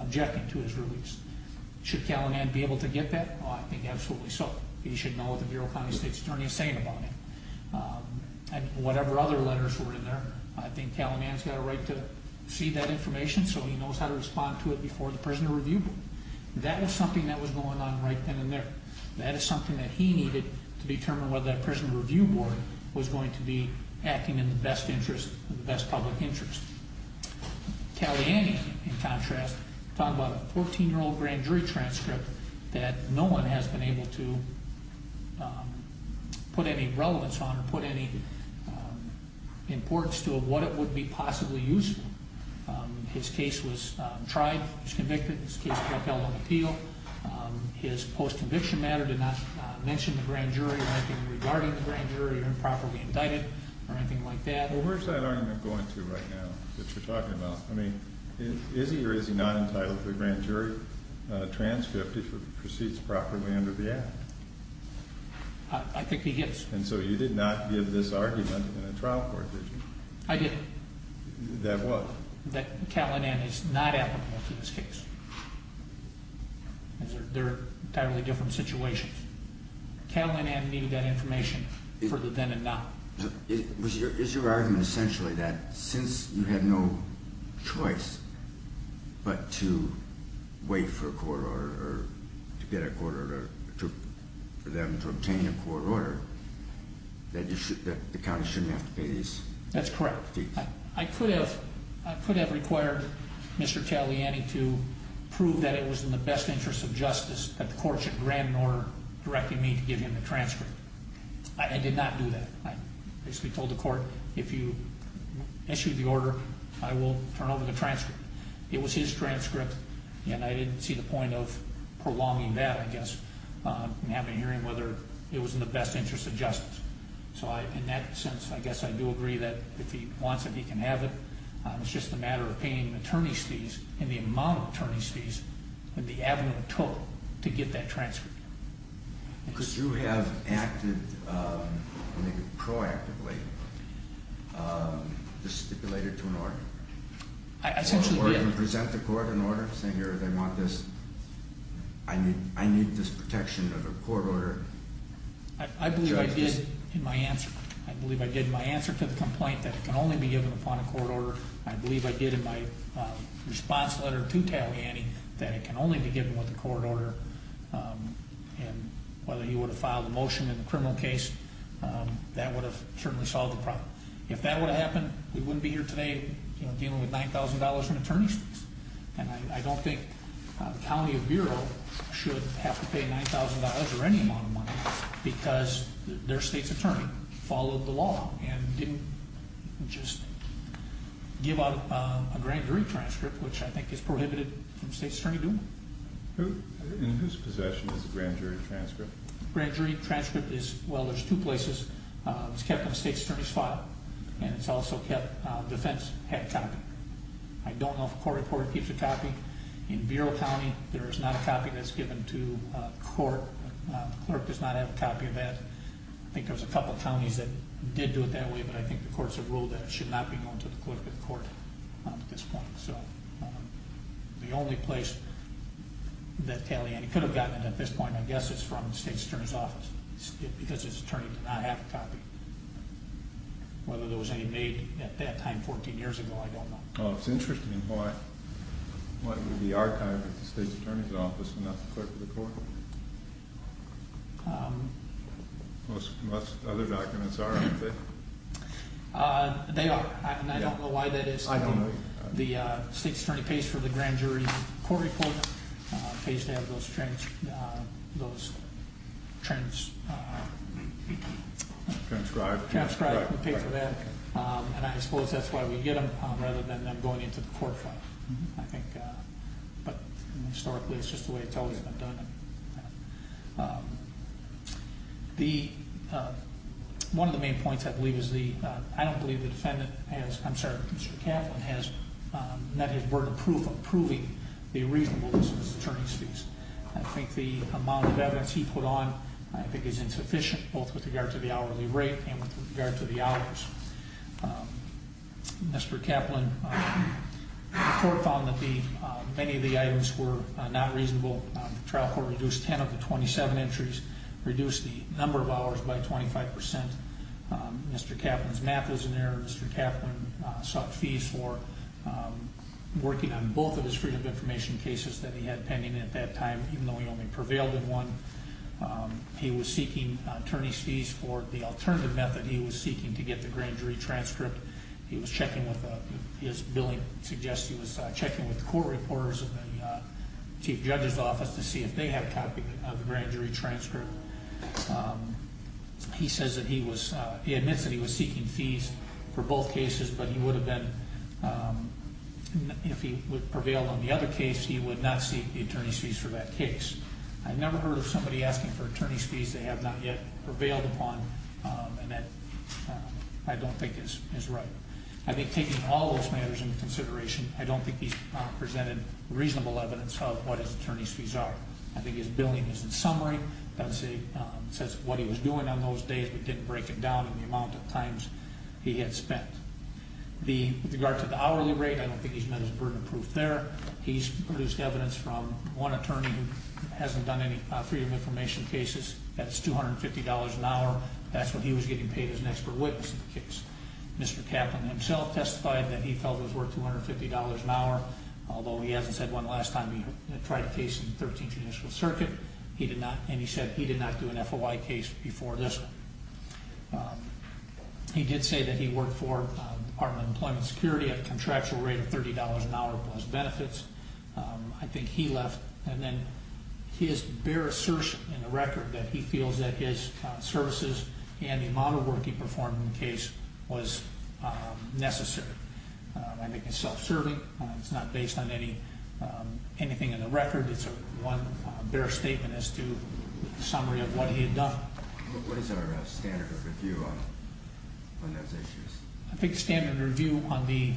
objecting to his release. Should Calinan be able to get that? I think absolutely so. He should know what the Bureau County State Attorney is saying about him. Whatever other letters were in there. I think Calinan's got a right to see that information so he knows how to respond to it before the Prisoner Review Board. That is something that was going on right then and there. That is something that he needed to determine whether the Prisoner Review Board was going to be acting in the best interest, the best public interest. Calinan, in contrast, thought about a 14-year-old grand jury transcript that no one has been able to put any relevance on or put any importance to of what it would be possibly useful. His case was tried. He was convicted. His case got held on appeal. His post-conviction matter did not mention the grand jury or anything regarding the grand jury or improperly indicted or anything like that. Well, where is that argument going to right now that you're talking about? I mean, is he or is he not entitled to a grand jury transcript if it proceeds properly under the Act? I think he is. And so you did not give this argument in the trial court, did you? I didn't. That what? That Calinan is not applicable to this case. They're entirely different situations. Calinan needed that information for the then and now. Is your argument essentially that since you had no choice but to wait for a court order or to get a court order or for them to obtain a court order, that the county shouldn't have to pay these? That's correct. I could have required Mr. Calinan to prove that it was in the best interest of justice that the court should grant an order directing me to give him the transcript. I did not do that. I basically told the court, if you issue the order, I will turn over the transcript. It was his transcript, and I didn't see the point of prolonging that, I guess, and having to hear whether it was in the best interest of justice. So in that sense, I guess I do agree that if he wants it, he can have it. It's just a matter of paying attorney's fees and the amount of attorney's fees and the avenue it took to get that transcript. Could you have proactively stipulated to an order? I think you could. Or you can present the court an order saying, I need this protection of a court order. I believe I did in my answer. I believe I did in my answer to the complaint that it can only be given upon a court order. I believe I did in my response letter to Taviani that it can only be given upon a court order. And whether he were to file the motion in the criminal case, that would have certainly solved the problem. If that would have happened, we wouldn't be here today dealing with $9,000 in attorneys. And I don't think the County Bureau should have to pay $9,000 or any amount of money because their state's attorney followed the law and didn't just give out a grand jury transcript, which I think is prohibited in the state's attorney booth. In whose possession is the grand jury transcript? The grand jury transcript is, well, there's two places. It's kept in the state's attorney's file, and it's also kept in the defense head county. I don't know if a court-to-court keeps a copy. The court does not have a copy of that. I think there's a couple of counties that did do it that way, but I think the court's a rule that it should not be going to the collective court at this point. So the only place that Taviani could have gotten it at this point, I guess, is from the state's attorney's office because his attorney did not have a copy. Whether there was any made at that time 14 years ago, I don't know. Well, it's interesting why the archives at the state's attorney's office are not part of the court. Most other documents are, aren't they? They are. I don't know why that is. The state's attorney pays for the grand jury court report. It pays to have those transcripts. Transcripts. Transcripts. And I suppose that's why we get them rather than them going into the court. Historically, it's just the way it's always been done. One of the main points, I believe, is I don't believe the defendant has, I'm sorry, Mr. Kaplan has met his burden of proving the reasonableness of his attorney's fees. I think the amount of evidence he put on, I think, is insufficient both with regards to the hourly rate and with regards to the hours. Mr. Kaplan, the court found that many of the items were not reasonable. The trial court reduced 10 of the 27 entries, reduced the number of hours by 25%. Mr. Kaplan's map was in there. Mr. Kaplan sought fees for working on both of his freedom of information cases that he had pending at that time, even though he only prevailed in one. He was seeking attorney's fees for the alternative method he was seeking to get the grand jury transcript. He was checking with, his billing suggests he was checking with court reporters in the chief judge's office to see if they had documents on the grand jury transcript. He says that he was, he admits that he was seeking fees for both cases, but he would have been, if he would prevail on the other case, he would not seek the attorney's fees for that case. I've never heard somebody asking for attorney's fees they have not yet prevailed upon, and that I don't think is right. I think taking all those matters into consideration, I don't think he's presented reasonable evidence of what his attorney's fees are. I think his billing is in summary. It says what he was doing on those days, but didn't break it down in the amount of times he had spent. With regard to the hourly rate, I don't think he's met his burden of proof there. He's produced evidence from one attorney who hasn't done any freedom of information cases. That's $250 an hour. That's what he was getting paid as an extra witness in the case. Mr. Kaplan himself testified that he felt it was worth $250 an hour, although he hasn't said one last time he tried a case in the 13th Judicial Circuit, and he said he did not do an FOI case before this one. He did say that he worked for the Department of Employment Security at a contractual rate of $30 an hour plus benefits. I think he left. And then his bare assertion in the record that he feels that his services and the amount of work he performed in the case was necessary. I think it's self-certain. It's not based on anything in the record. It's one bare statement as to the summary of what he had done. What is our standard of review on those issues? I think the standard of review on the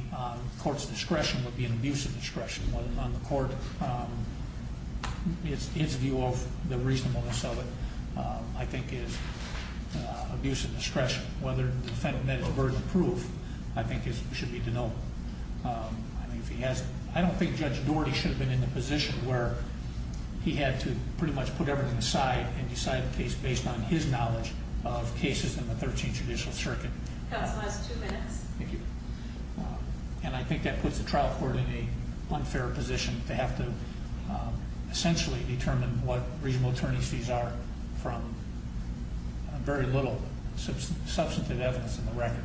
court's discretion would be an abuse of discretion, whether or not the court's view of the reasonableness of it, I think, is abuse of discretion. Whether the defendant makes a verdict of proof, I think, should be denoted. I don't think Judge Doherty should have been in the position where he had to pretty much put everything aside and decide the case based on his knowledge of cases in the 13th Judicial Circuit. And I think that puts the trial court in an unfair position to have to essentially determine what reasonable attorneys fees are from very little substantive evidence in the record.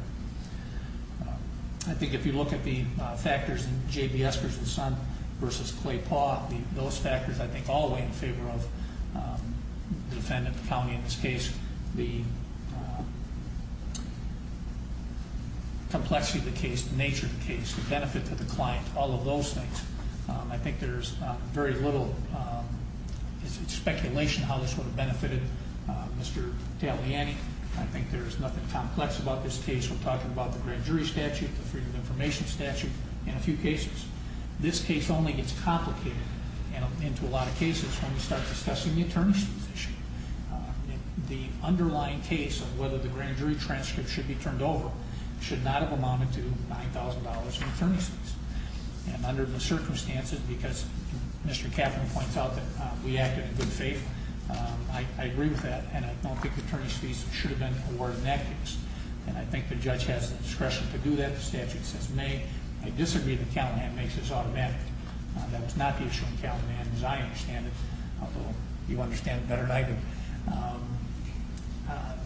I think if you look at the factors in J.B. Eskridge and Son v. Clay Paugh, those factors I think all weigh in favor of the defendant, the county in this case, the complexity of the case, the nature of the case, the benefit to the client, all of those things. I think there's very little speculation on how this would have benefited Mr. Taliani. I think there's nothing complex about this case. We're talking about the grand jury statute, the freedom of information statute, and a few cases. This case only gets complicated, and in a lot of cases, when we start discussing the attorneyship issue, the underlying case of whether the grand jury transcript should be turned over should not have amounted to $9,000 in attorneyship. And under the circumstances, because Mr. Kaplan pointed out that we acted in good faith, I agree with that, and I don't think attorneys fees should have been awarded in that case. And I think the judge has discretion to do that in the statute. I disagree that Cal-Nan makes this automatic. That's not the issue with Cal-Nan as I understand it, although you understand it better than I do.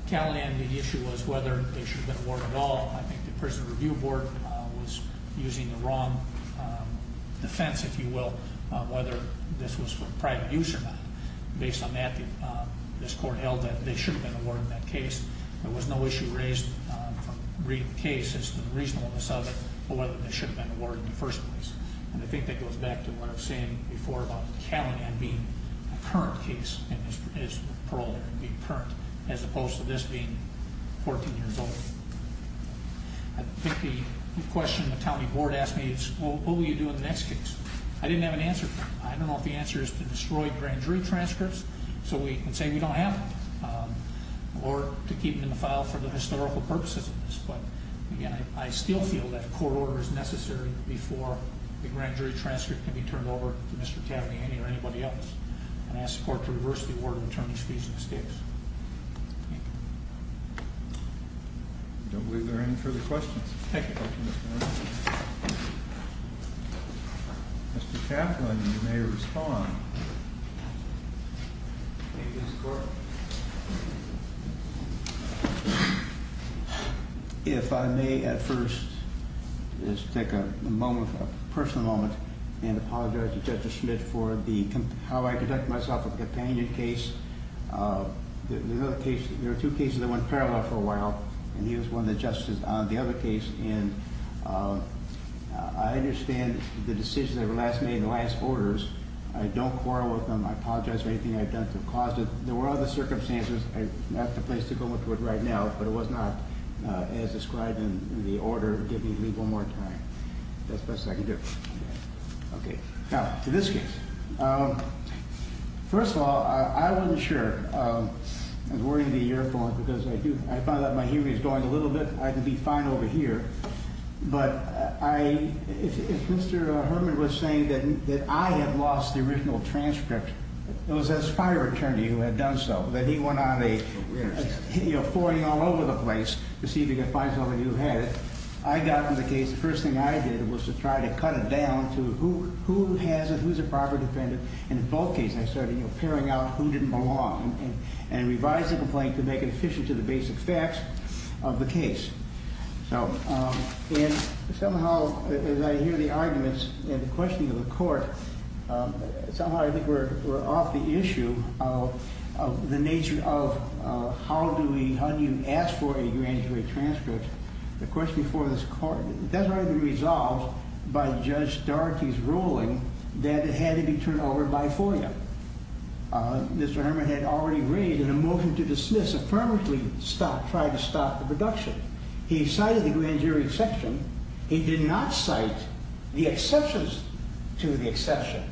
Cal-Nan, the issue was whether it should have been awarded at all. I think the prison review board was using the wrong defense, if you will, on whether this was for private use or not. Based on that, this court held that it should have been awarded in that case. There was no issue raised in the brief case as to the reason on the subject of whether it should have been awarded in the first place. And I think that goes back to what I was saying before about Cal-Nan being a current case as opposed to this being 14 years old. I think the question the county board asked me is, well, what will you do in the next case? I didn't have an answer to that. I don't know if the answer is to destroy grand jury transcripts so we can say we don't have them or to keep them in the file for the historical purposes of this. But I still feel that a court order is necessary before a grand jury transcript can be turned over to Mr. Cal-Nan or anybody else and ask the court to reverse the order to turn these cases. Thank you. Are there any further questions? No questions. Mr. Kaplan, you may respond. Thank you, Mr. Court. If I may, at first, just take a moment, a personal moment, and apologize to Justice Schmitt for how I conducted myself in the companion case. There were two cases that went parallel for a while, and he was one of the justices on the other case. And I understand the decision that was made in the last orders. I don't quarrel with him. I apologize for anything I've done to cause it. There were other circumstances, and that's the place to go into it right now, but it was not as described in the order. Give me one more time. That's the best I can do. Okay. Now, for this case, first of all, I wasn't sure of wearing the earphones because I found out my hearing was going a little bit. I would be fine over here. But if Mr. Herman was saying that I had lost the original transcript, it was a fire attorney who had done so, that he went on a, you know, pouring all over the place to see if he could find someone who had it. I got on the case. The first thing I did was to try to cut it down to who has it, who's a proper defendant, invoking instead of, you know, carrying out who didn't belong, and revise the complaint to make it sufficient to the basic facts of the case. And somehow, as I hear the arguments and the questions of the court, somehow I think we're off the issue of the nature of how do you ask for a humanitarian transcript. The question before this court, it doesn't have to be resolved by Judge Darkey's ruling that it had to be turned over by FOIA. Mr. Herman had already raised, in a motion to dismiss, a permanently stopped, tried to stop, reduction. He cited the grand jury exception. He did not cite the exceptions to the exception.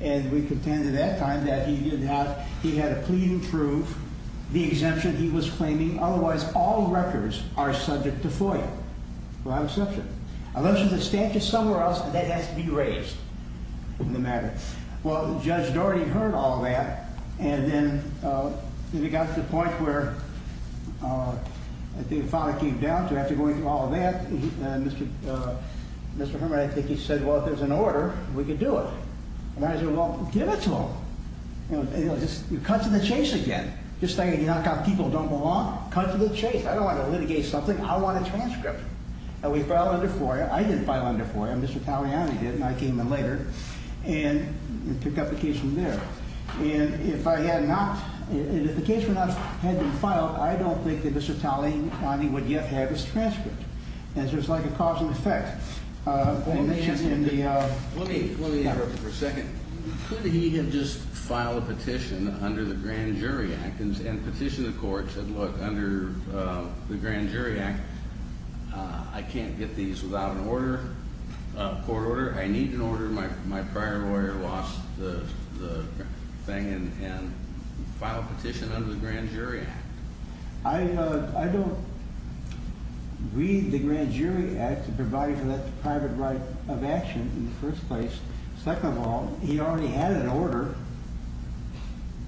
And we contended at that time that he did not, he had a plea to approve the exemption he was claiming. Otherwise, all records are subject to FOIA, who have exception. Unless there's a statute somewhere else that has to be raised in the matter. Well, Judge Darkey heard all that, and then we got to the point where I think the product came down, so after going through all that, Mr. Herman, I think he said, well, if there's an order, we can do it. And I said, well, give it to them. You know, just cut to the chase again. This thing, you knock out people who don't belong. Cut to the chase. I don't want to litigate something. I want a transcript. And we filed under FOIA. I didn't file under FOIA. Mr. Pagliari did, and I came in later. And took up the case from there. And if I had not, if the case had not been filed, I don't think that Mr. Pagliari would yet have his transcript. And so it's like a cause and effect. Let me interrupt you for a second. He had just filed a petition under the Grand Jury Act, and petitioned the courts that, look, under the Grand Jury Act, I can't get these without an order, a court order. I need an order. My prior lawyer lost the thing and filed a petition under the Grand Jury. I don't read the Grand Jury Act to provide for that private right of action in the first place. Second of all, he already had an order.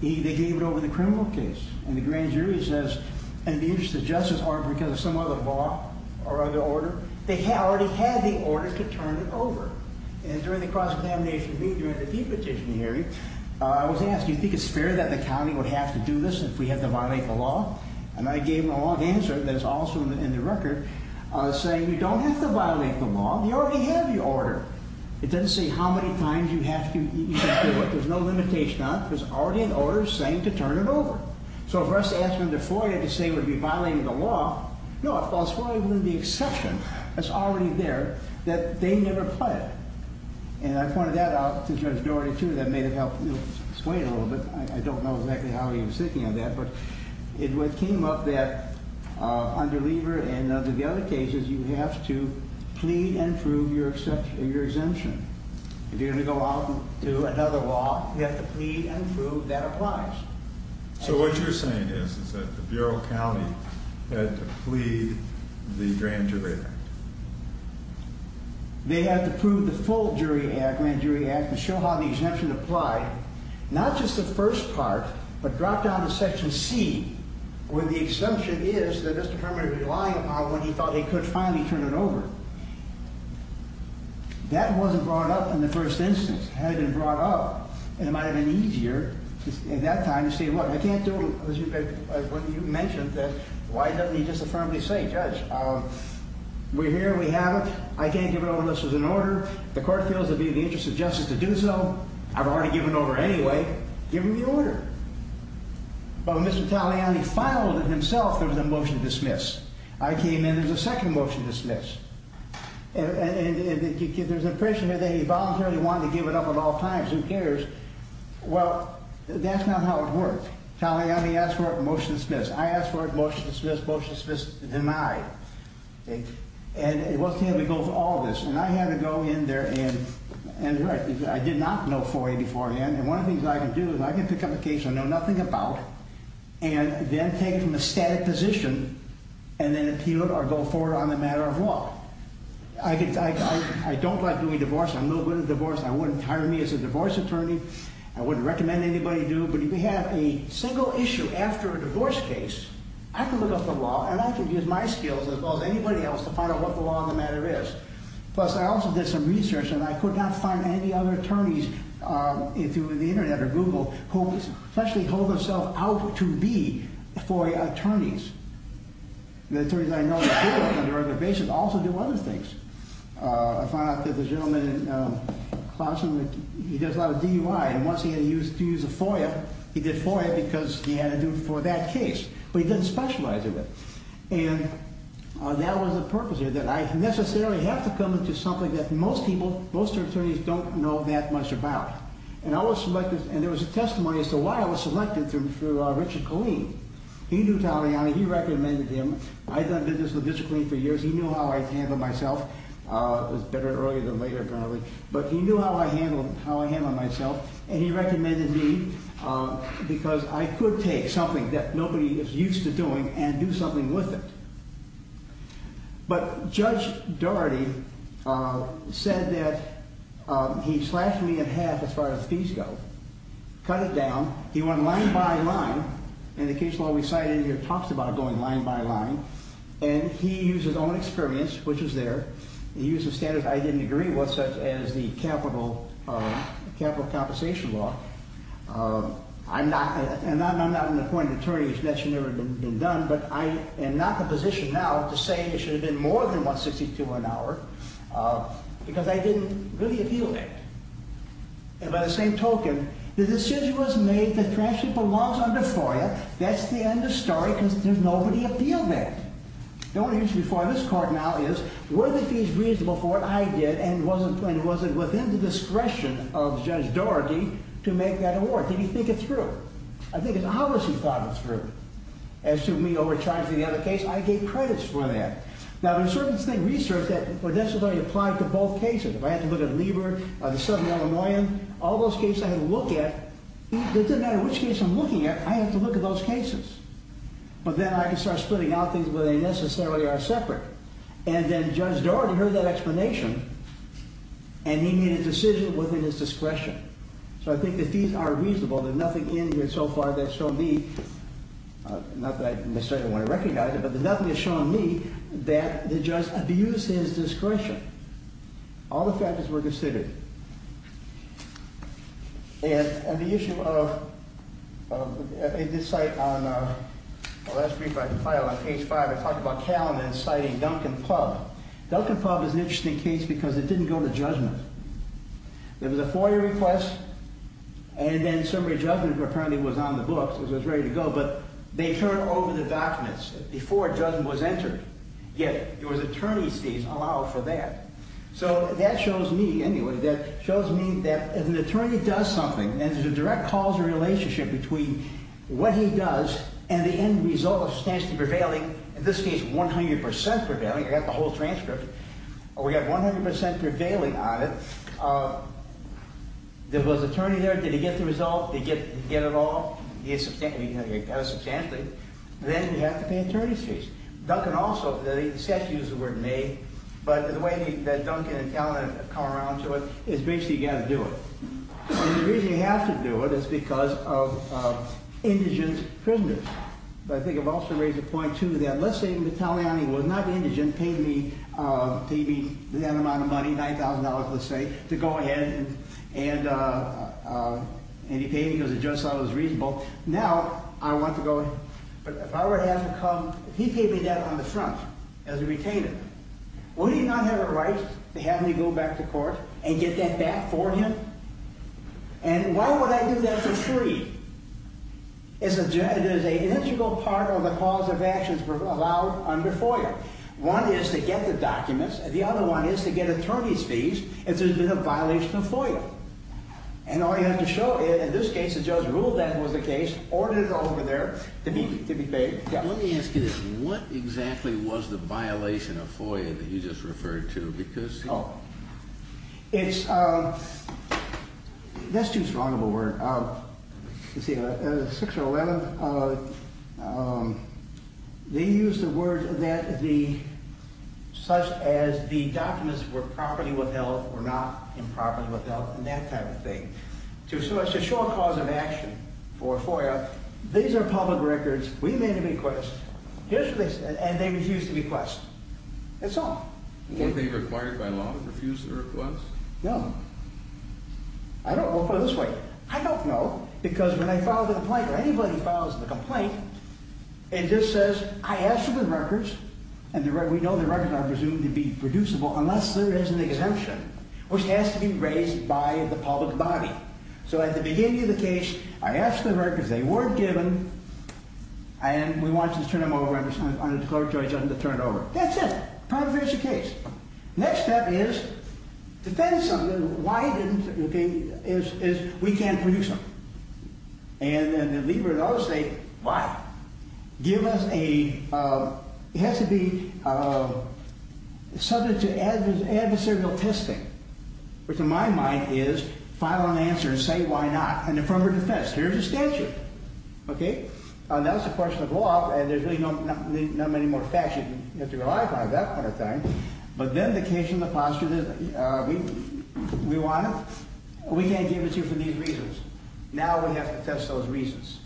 They gave it over to the criminal case. And the Grand Jury says, in the interest of justice, or because of some other law or other order, they already had the order to turn it over. And during the cross-examination week, during the de-petition hearing, I was asked, do you think it's fair that the county would have to do this if we had to violate the law? And I gave him a long answer that is also in the record, saying we don't have to violate the law. We already have the order. It doesn't say how many times you have to do it. There's no limitation on it. There's already an order saying to turn it over. So if I was to ask him the floor, you have to say, would we violate the law? No, it falls fully within the exception. It's already there that they never cut it. And I pointed that out to Judge Dorey, too, that may have helped you explain a little bit. I don't know exactly how he was thinking of that. But it came up that under Lever and under the other cases, you have to plead and prove your exemption. If you're going to go out and do another law, you have to plead and prove that approach. So what you're saying is that the Bureau of County had to plead the grand jury? They had to prove the full grand jury to show how the exemption applied, not just the first part, but drop down to Section C, where the assumption is that Mr. Comrie was lying about when he thought they could finally turn it over. That wasn't brought up in the first instance. Had it been brought up, it might have been easier in that time to say, well, we can't do, as you mentioned, why don't we just affirmly say, Judge, we're here and we have it. I can't give it over unless there's an order. The court feels it would be in the interest of justice to do so. I've already given over anyway. Give me the order. Well, Mr. Taliani filed it himself as a motion to dismiss. I came in as a second motion to dismiss. And if there's a person that involuntarily wanted to give it up at all times, who cares? Well, that's not how it works. Taliani asked for a motion to dismiss. I asked for a motion to dismiss, motion to dismiss denied. And it wasn't going to go through all of this. And I had to go in there and I did not know 484 in. And one of the things I can do is I can pick up a case I know nothing about and then take from the static position and then appeal it or go forward on a matter of law. I don't like doing divorce. I'm a little good at divorce. I wouldn't hire me as a divorce attorney. I wouldn't recommend anybody to do it. But if you have a single issue after a divorce case, I can look up the law and I can use my skills as opposed to anybody else to find out what the law of the matter is. Plus, I also did some research and I could not find any other attorneys through the internet or Google who especially hold themselves out to be FOIA attorneys. The attorneys that I know in the field under other bases also do other things. I found out that the gentleman in the classroom, he did a lot of DUI. And once he had to use a FOIA, he did FOIA because he had to do it for that case. But he didn't specialize in it. And that wasn't the purpose of it. I necessarily had to come up with something that most people, most attorneys don't know that much about. And I was selected, and there was a testimony as to why I was selected for Richard Killeen. He knew Don Rihanna. He recommended him. I'd done business with Richard Killeen for years. He knew how I handled myself. It was better early than later generally. But he knew how I handled myself. And he recommended me because I could take something that nobody is used to doing and do something with it. But Judge Daugherty said that he slashed me in half as far as fees go, cut it down. He went line by line. In the case law we cited here, he talked about it going line by line. And he used his own experience, which was there. He used a standard I didn't agree with, such as the capital compensation law. And I'm not an appointed attorney, which that should never have been done. But I am not in a position now to say it should have been more than $162 an hour because I didn't really appeal that. And by the same token, the decision was made that traction for laws under FOIA, that's the end of story. And nobody appealed that. Now what I'm going to use before this court now is, was it used reasonable for it? I did. And was it within the discretion of Judge Daugherty to make that award? Did he think it through? I think he obviously thought it through. As to me over time for the other case, I gave credits for that. Now there's certain things in research that were necessarily applied to both cases. If I had to look at Lieber, the Southern Illinoisan, all those cases I had to look at, it doesn't matter which case I'm looking at, I have to look at those cases. But then I can start splitting out things where they necessarily are separate. And then Judge Daugherty heard that explanation and he made a decision within his discretion. So I think that these are reasonable. There's nothing in here so far that's shown me, not that I necessarily want to recognize it, but there's nothing that's shown me that the judge abused his discretion. All the factors were considered. And the issue of, in this site on, the last brief I compiled on Case 5, I talked about Calum and citing Duncan Pub. Duncan Pub is an interesting case because it didn't go to judgment. There was a FOIA request and then some of the judgment apparently was on the books, it was ready to go, but they turned over the documents before judgment was entered. Yet, there was attorney's fees allowed for that. So that shows me, anyway, that shows me that if an attorney does something and there's a direct causal relationship between what he does and the end result of substantive prevailing, in this case, 100% prevailing, I got the whole transcript, we got 100% prevailing on it, there was an attorney there, did he get the result, did he get it all, he had a substantive, then you have to pay attorney's fees. Duncan also, the statute is the word made, but the way that Duncan and Calum come around to it is basically you've got to do it. And the reason you have to do it is because of indigent prisoners. But I think I've also raised a point, too, that let's say the Italian was not indigent, paid me the amount of money, $9,000, let's say, to go ahead and he paid me because the judge thought it was reasonable. Now, I want to go, if I were to have to come, he paid me that on the front as a retainer. Wouldn't he not have the right to have me go back to court and get that back for him? And why would I do that for free? As a judge, there's an integral part of the cause of actions allowed under FOIA. One is to get the documents, the other one is to get attorney's fees if there's been a violation of FOIA. And all you have to show is, in this case, the judge ruled that was the case, ordered it over there to be paid. Let me ask you this, what exactly was the violation of FOIA that he just referred to? Because... It's... Let's use a wrong word. 611, they used the word that the... such as the documents were property withheld or not in property withheld and that type of thing. So it's a short cause of action for FOIA. These are public records. We made an inquest. And they refused to be questioned. That's all. No. I don't know. Because when I filed a complaint or anybody files a complaint and this says, I asked for the records and we know the records are presumed to be reducible unless there is an exemption which has to be raised by the public body. So at the beginning of the case, I asked for the records. They weren't given. And we wanted to turn them over on a declaratory judgment to turn it over. That's it. Next step is to say something, is we can't produce them. And the need for those states, what? Give us a... It has to be something to adversarial testing. Which in my mind is file an answer and say why not. Here's the statute. That's a question of law and there's really not many more facts you have to rely upon for that kind of thing. But then the case in the posture is we want it. We can't give it to you for these reasons. Now we have to test those reasons.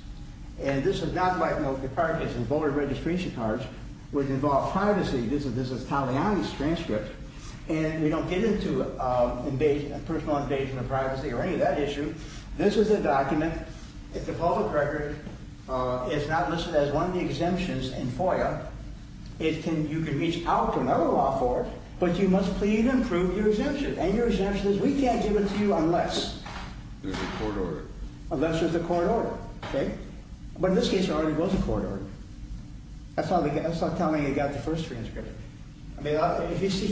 And this is not like the card cases, voter registration cards which involve privacy. This is Pollyanna's transcript. And you don't get into personal invasion of privacy or any of that issue. This is a document. It's a public record. It's not listed as one of the exemptions in FOIA. You can reach out to another law court, but you must prove your exemption. And your exemption is we can't give it to you unless there's a court order. Unless there's a court order. But in this case there already was a court order. That's not telling you you got the first transcript. You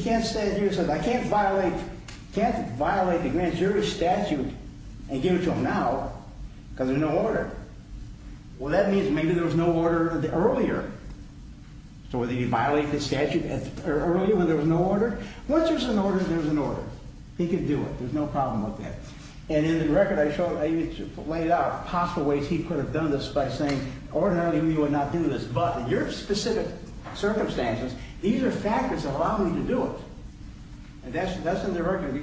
can't say I can't violate against your statute and give it to him now because there's no order. Well that means maybe there was no order earlier. Or that he violated the statute earlier when there was no order. Once there's an order, there's an order. He can do it. There's no problem with that. And in the record I laid out possible ways he could have done this by saying ordinarily we would not do this. But in your specific circumstances these are factors that allow you to do it. And that's in the record.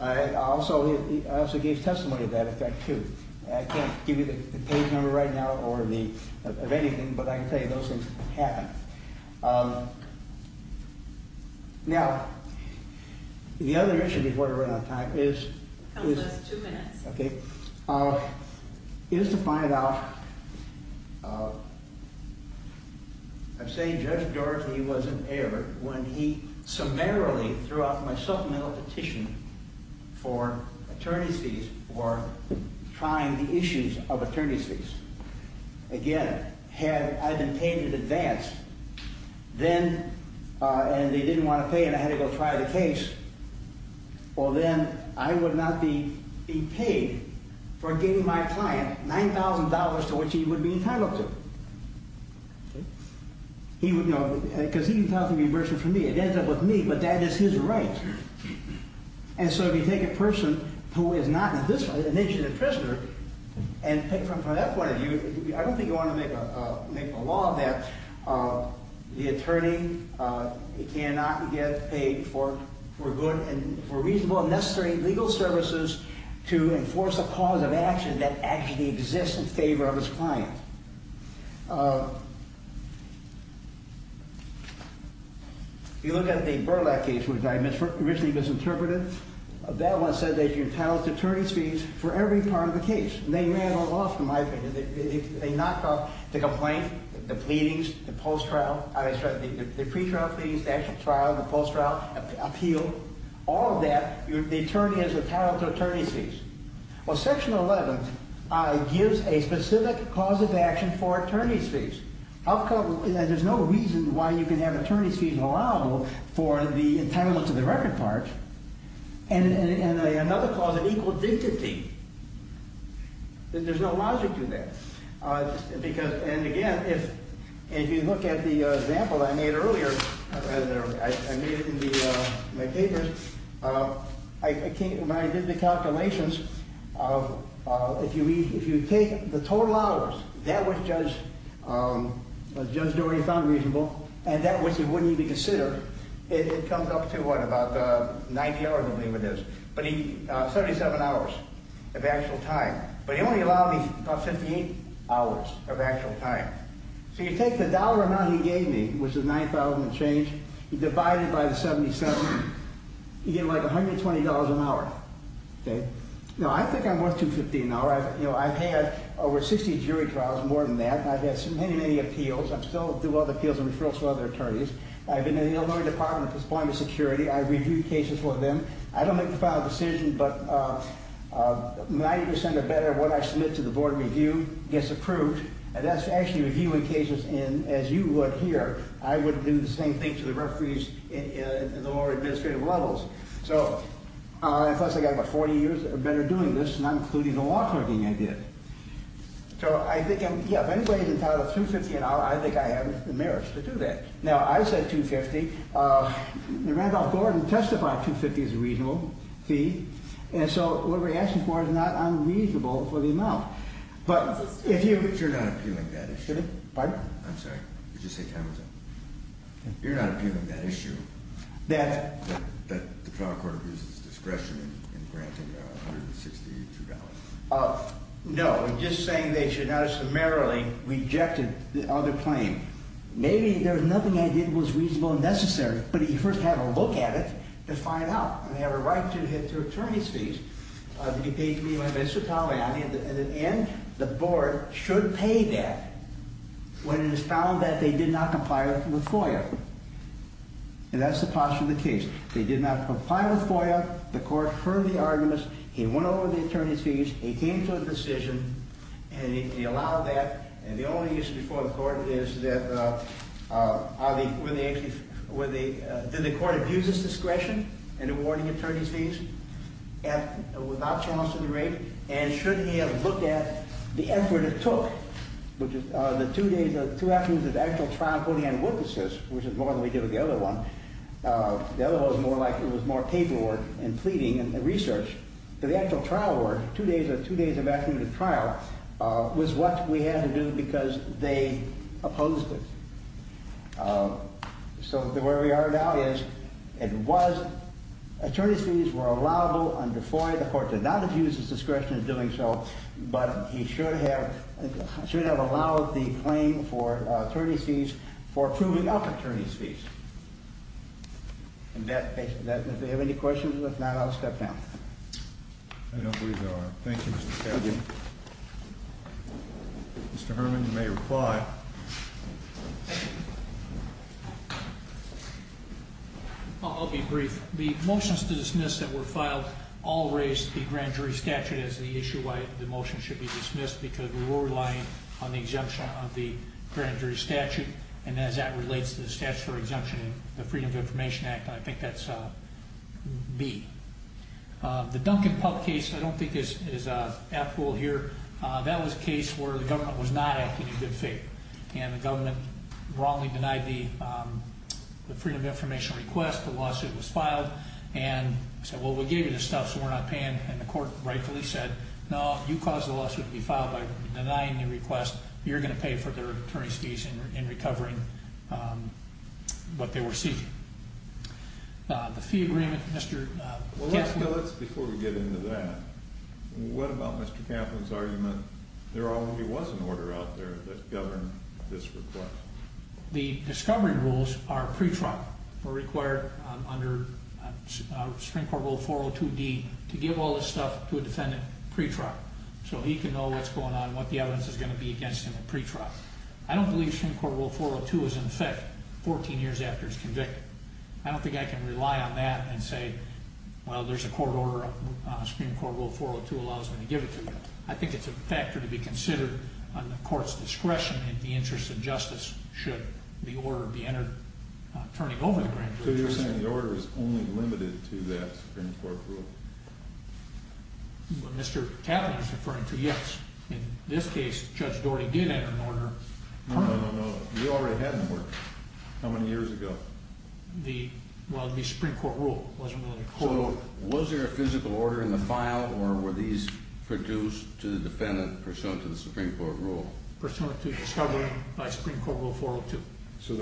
I also gave testimony of that too. I can't give you the page number right now or of anything, but I can tell you those things happen. Now, the other issue before I run out of time is two minutes. Is to find out I say Judge Dorothy was in error when he summarily threw out myself a petition for attorneys for trying the issues of attorneys. Again, had I been paid in advance then and they didn't want to pay and I had to go file a case or then I would not be paid for giving my client $9,000 for which he would be entitled to. Because he would be entitled to reimbursement for me. It ends up with me, but that is his right. And so if you take a person who is not an indigent I don't think you want to make a law that the attorney cannot get paid for good and for reasonable and necessary legal services to enforce a cause of action that actually exists in favor of his client. If you look at the Burlak case which was originally misinterpreted that one says that you're entitled to attorneys fees for every part of the case. And they may have a loss in my opinion. A knock-off, the complaint, the pleadings, the post-trial, the pre-trial plea, the actual trial, the post-trial appeal, all of that they termed as entitled to attorney fees. Well, section 11 gives a specific cause of action for attorney fees. There's no reason why you can have attorney fees allowable for the entitlement to the record part and another clause, an equal dignity. There's no logic to that. And again, if you look at the example I made earlier, I made it in my papers, when I did the calculations, if you take the total hours, that would judge Judge Dory as unreasonable and that which he wouldn't even consider, it comes up to what, about 90 hours? 77 hours of actual time. But he only allowed me about 15 hours of actual time. So you take the dollar amount he gave me, which is $9,000 and change, divided by the 77, you get like $120 an hour. Okay? Now, I think I'm worth $250 an hour. I've had over 60 jury trials, more than that. I've had so many, many appeals. I still do other appeals and refer to other attorneys. I've been in the Illinois Department of Deployment Security. I've reviewed cases for them. I don't make the final decision, but 90% or better of what I submit to the Board of Review gets approved. That's actually reviewing cases as you would here. I would do the same thing to the referees in the lower administrative levels. So, plus I've got 40 years or better doing this, and I'm including the law clerking I did. So, I think, yeah, if anybody can tie up $250 an hour, I think I am in merit to do that. Now, I said $250. It might as well go ahead and testify $250 as a reasonable fee. And so, what we're asking for is not unreasonable, but enough. You're not appealing that issue. Pardon? I'm sorry. You're not appealing that issue. That the trial court loses discretion in granting the $160. No. I'm just saying they should have summarily rejected the other claim. Maybe there was nothing I did that was reasonable and necessary, but if you first have a look at it, just find out. And they have a right to attorney's fees. You can take me on this. In the end, the court should pay that when it is found that they did not comply with FOIA. And that's the posture of the case. They did not comply with FOIA. The court heard the arguments. They went over the attorney's fees. They came to a decision. And they allowed that. And the only issue before the court is that did the court abuse its discretion in awarding attorney's fees without challenging the rape? And shouldn't we have looked at the effort it took? The two days or two afternoons of actual trial for the eyewitnesses, which is more than we did with the other one. The other one was more paperwork and pleading and research. The actual trial work, two days or two days of actual trial, was what we had to do because they opposed it. So, where we are now is it was attorney's fees were allowable under FOIA. The court did not abuse its discretion in doing so, but it should have allowed the claim for attorney's fees for proving up attorney's fees. In that case, if there are any questions, if not, I'll step down. I don't believe there are. Thank you, Mr. Chairman. Thank you. Mr. Herman, you may reply. I'll be brief. The motions to dismiss that were filed all raised the grand jury statute as the issue why the motion should be dismissed because we were relying on the exemption of the grand jury statute and as that relates to the statutory exemption of the Freedom of Information Act, I think that's B. The Duncan Pup case, I don't think it's actual here, that was a case where the government was not actually in good faith and the government wrongly denied the Freedom of Information request, the lawsuit was filed and said, well, we gave you this stuff so we're not paying and the court rightfully said no, you caused the lawsuit to be filed by denying the request, you're going to pay for their attorney's fees in recovering what they were seeking. The fee agreement, Mr. Well, let's, before we get into that, what about Mr. Kaplan's argument, there already was an order out there that governed this request? The discovery rules are pre-trial or required under Supreme Court Rule 402D to give all this stuff to a defendant pre-trial so he can know what's going on and what the evidence is going to be against him at pre-trial. I don't believe Supreme Court Rule 402 is in effect 14 years after he's convicted. I don't think I can rely on that and say well, there's a court order, Supreme Court Rule 402 allows them to give it to you. I think it's a factor to be considered on the court's discretion in the interest of justice should the order be entered first of all in the grand jury. So you're saying the order is only limited to that Supreme Court rule? Mr. Kaplan's referring to, yes, in this case, Judge Gordy did enter an order. No, no, no, you already had an order. How many years ago? The Supreme Court rule. So was there a physical order in the file or were these produced to the defendant pursuant to the Supreme Court rule? Pursuant to the Supreme Court Rule 402. So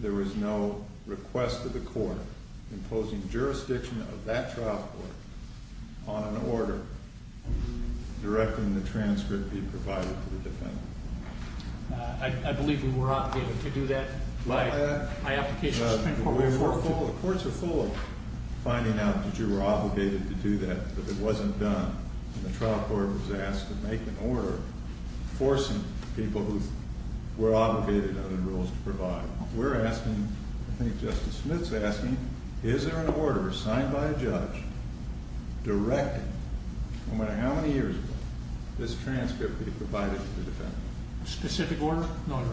there was no request to the court imposing jurisdiction of that trial court on an order directing the transcript being provided to the defendant. I believe we were obligated to do that. The courts are full of finding out that you were obligated to do that, but it wasn't done. The trial court was asked to make an order forcing people who were obligated under the rules to provide it. We're asking, I think Justice Smith's asking, is there an order signed by a judge directing, no matter how many years ago, this specific order? No, no.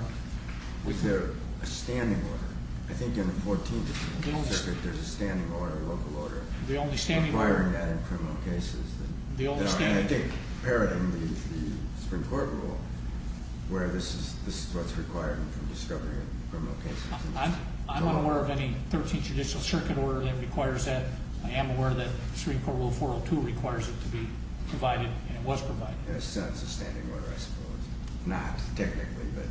Was there a standing order? I think in the 14th there's a standing order, a local order requiring that in criminal cases. I'm going to take error in the Supreme Court rule where this is what's required in discovering a criminal case. I'm not aware of any 13th judicial circuit order that requires that. I am aware that Supreme Court Rule 402 requires it to be provided and was provided. There's still a standing order, I suppose. Not technically, but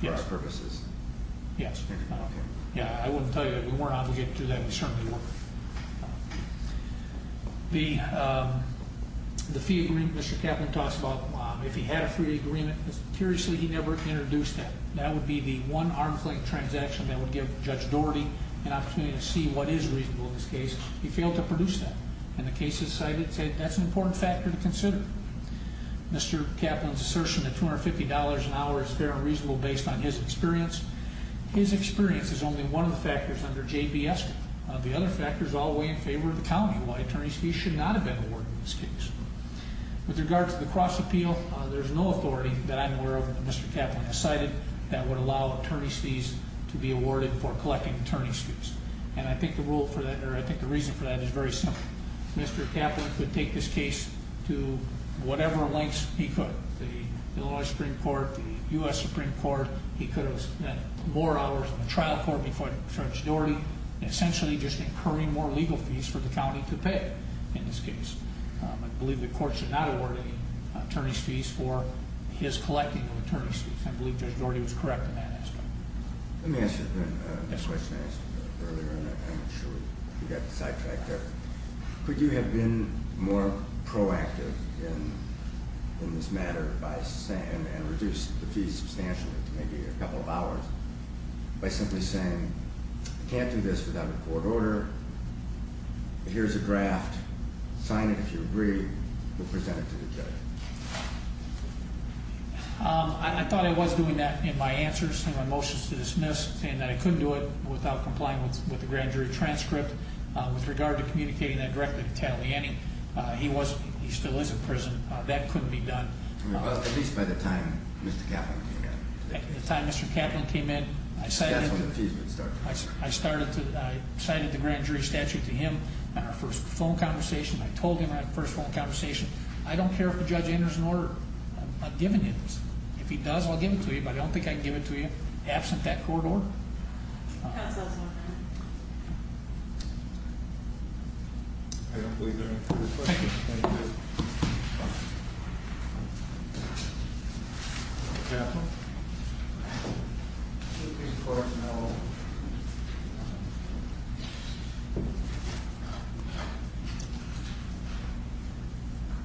for best purposes. Yes. I wouldn't tell you that you weren't obligated to do that. You certainly weren't. The fee agreement, Mr. Kaplan talks about if he had a free agreement, curiously he never introduced that. That would be the one arm's length transaction that would give Judge Doherty an opportunity to see what is reasonable in this case. He failed to produce that. And the case decided that's an important factor to consider. Mr. Kaplan's assertion that $250 an hour is fair and reasonable based on his experience. His experience is only one of the factors under JBS law. The other factors all weigh in favor of the challenge of why attorney's fees should not have been awarded in this case. With regard to the cross appeal, there's no authority that I'm aware of that Mr. Kaplan has cited that would allow attorney's fees to be awarded before collecting attorney's fees. And I think the reason for that is very simple. Mr. Kaplan could take this case to whatever lengths he could. The Illinois Supreme Court, the U.S. Supreme Court, he could have spent more hours on the trial court before he could charge Doherty, essentially just incurring more legal fees for the county to pay in this case. I believe the courts did not award attorney's fees for his collecting of attorney's fees. I believe that Doherty was correct in that. Could you have been more proactive in this matter by saying and reduce the fees substantially maybe a couple of hours by simply saying you can't do this without a court order here's a draft sign it if you agree we'll present it to the judge. I thought I was doing that in my answers in my motions to dismiss and I couldn't do it without complying with the grand jury transcript with regard to communicating that directly to Cattley. He still is in prison. That couldn't be done. At least by the time Mr. Kaplan came in. By the time Mr. Kaplan came in I started I cited the grand jury statute to him for a phone conversation I told him in our first phone conversation I don't care if the judge enters an order I'm giving it. If he does I'll give it to you but I don't think I can give it to you absent that court order. Thank you.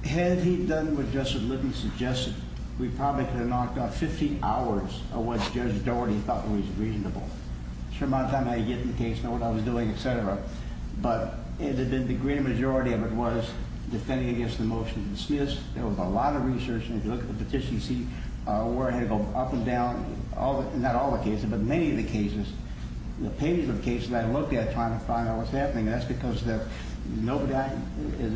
Had he done what Judge Lippy suggested we probably could have knocked out 15 hours of what Judge Doherty thought was reasonable. I'm sure by the time I get to the case I know what I was doing etc. The great majority of it was defending against the motion to desist there was a lot of research if you look at the petition seat up and down not all the cases but many of the cases the pages of cases I looked at trying to find out what's happening that's because nobody there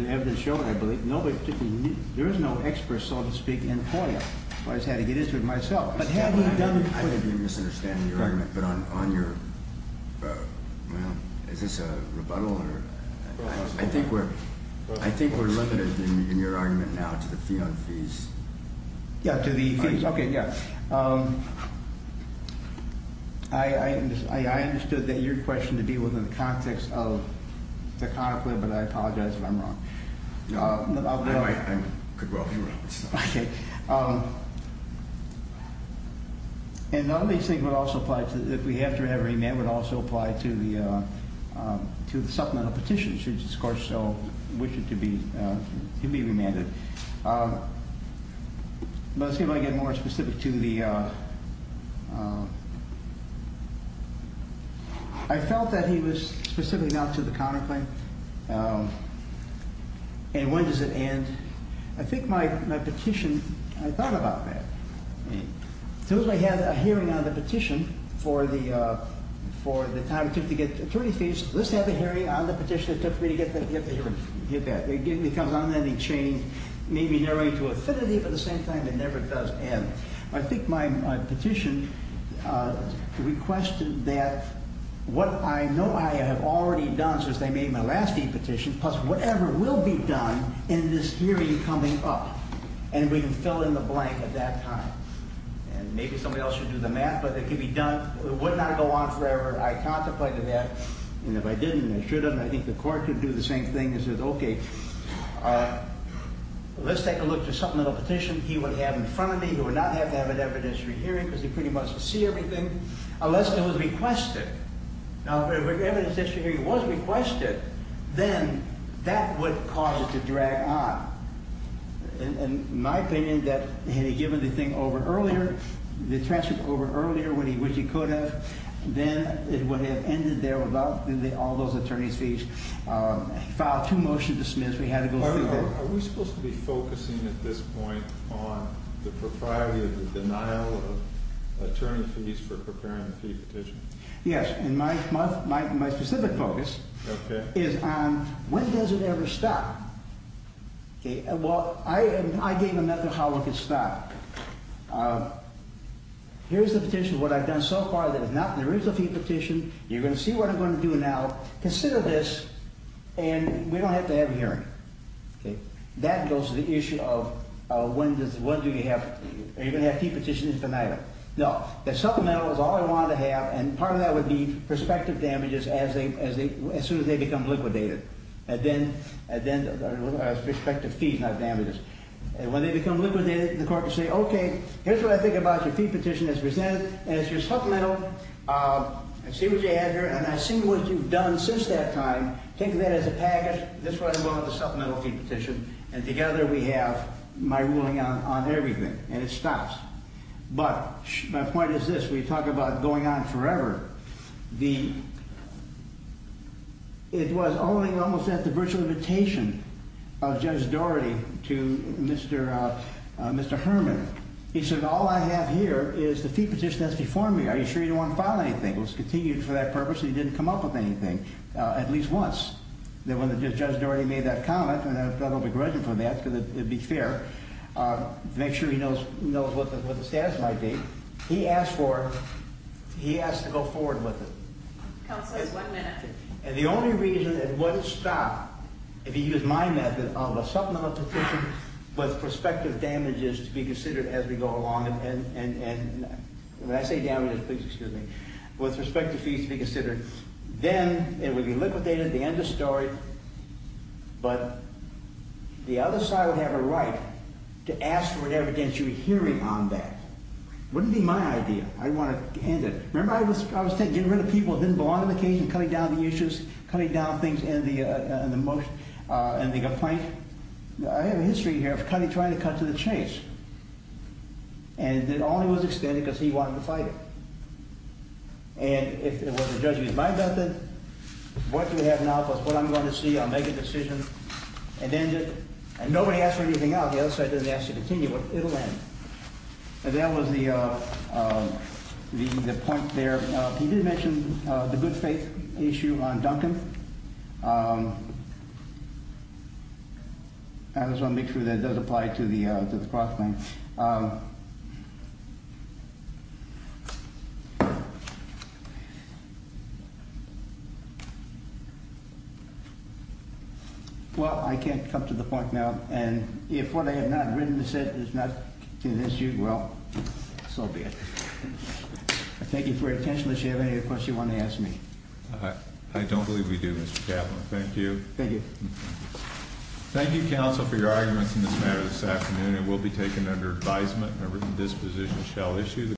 is no expert so to speak in the court yet. I just had to get into it myself. I may be misunderstanding your argument but I'm on your well is this a rebuttal or I think we're looking in your argument now to the yeah to the okay yeah I understood that your question to deal with the tactics of the conflict but I apologize if I'm wrong. No I think it could well be wrong. And none of these things would also apply to the answer in every amendment also apply to the supplement of petitions which of course so wish it to be to be remanded. Let's see if I can get more specific to the I felt that he was specifically not to the conflict and when does it end I think my petition had a plan about that because I had a hearing on the petition for the for the time it took to get three speeches. This had a hearing on the petition it took me to get back. It comes on and it changed maybe narrowing to affinity but at the same time it never does end. I think my petition requested that what I know I have already done since I made my last petition plus whatever will be done in this you fill in the blank at that time and maybe somebody else should do the math but it would not go on forever I contemplated that and if I didn't and I should have I think the court would do the same thing and say okay let's take a look at something in the petition he would have in front of me we would not have to have an evidence re-hearing because they pretty much see everything unless it was requested now if the evidence re-hearing was requested then that would cause it to drag on in my opinion that had he given the thing over earlier the attention over earlier when he put it then when it ended there all those attorneys filed two motions to dismiss are we supposed to be focusing at this point on the propriety of the denial of attorneys fees for preparing the petition yes and my specific focus is on when does it ever stop well I gave a method how it could stop here's the petition what I've done so far that if not there is a fee petition you're going to see what I'm going to do now consider this and we don't have to have a hearing that goes to the issue of when do we have are you going to have fee petitions tonight no the supplemental is all I wanted to have and part of that would be prospective damages as soon as they become liquidated and then prospective fees not damages when they become liquidated the court would say okay here's what I think about the fee petition as presented as your supplemental see what you have here and I see what you've done since that time take that as a package this is what I want on the supplemental fee petition and together we have my ruling on everything and it stops but my point is this we talk about it going on forever the it was almost at the virtual invitation of Judge Doherty to Mr. Herman he said all I have here is the fee petition that's before me are you sure you don't want to file anything it was continued for that purpose and he didn't come up with anything at least once when Judge Doherty made that comment and I felt a little degraded for that because it would be fair make sure he knows what the status might be he asked for it and the only reason it wouldn't stop if he used my method of a supplemental petition with prospective damages to be considered as we go along and when I say damages please excuse me with prospective fees to be considered then it would be liquidated the end of the story but the other side would have a right to ask for whatever damage you were hearing on that it wouldn't be my idea I didn't want to end it remember I was getting rid of people that didn't belong to the case and cutting down the issues and the complaint I have a history here of trying to cut to the chase and it only was extended because he wanted to fight it and it was my method what you have now is what I'm going to see I'll make a decision and nobody asked for anything else the other side didn't ask to continue it'll end and that was the point there he did mention the good faith issue on Duncan I just want to make sure that it does apply to the prospect well I can't come to the point now and if what I have not written to say is not an issue well so be it thank you for your attention if you have any other questions you want to ask me I don't believe we do Mr. Chapman thank you thank you counsel for your arguments in this matter this afternoon it will be taken under advisement and a written disposition shall issue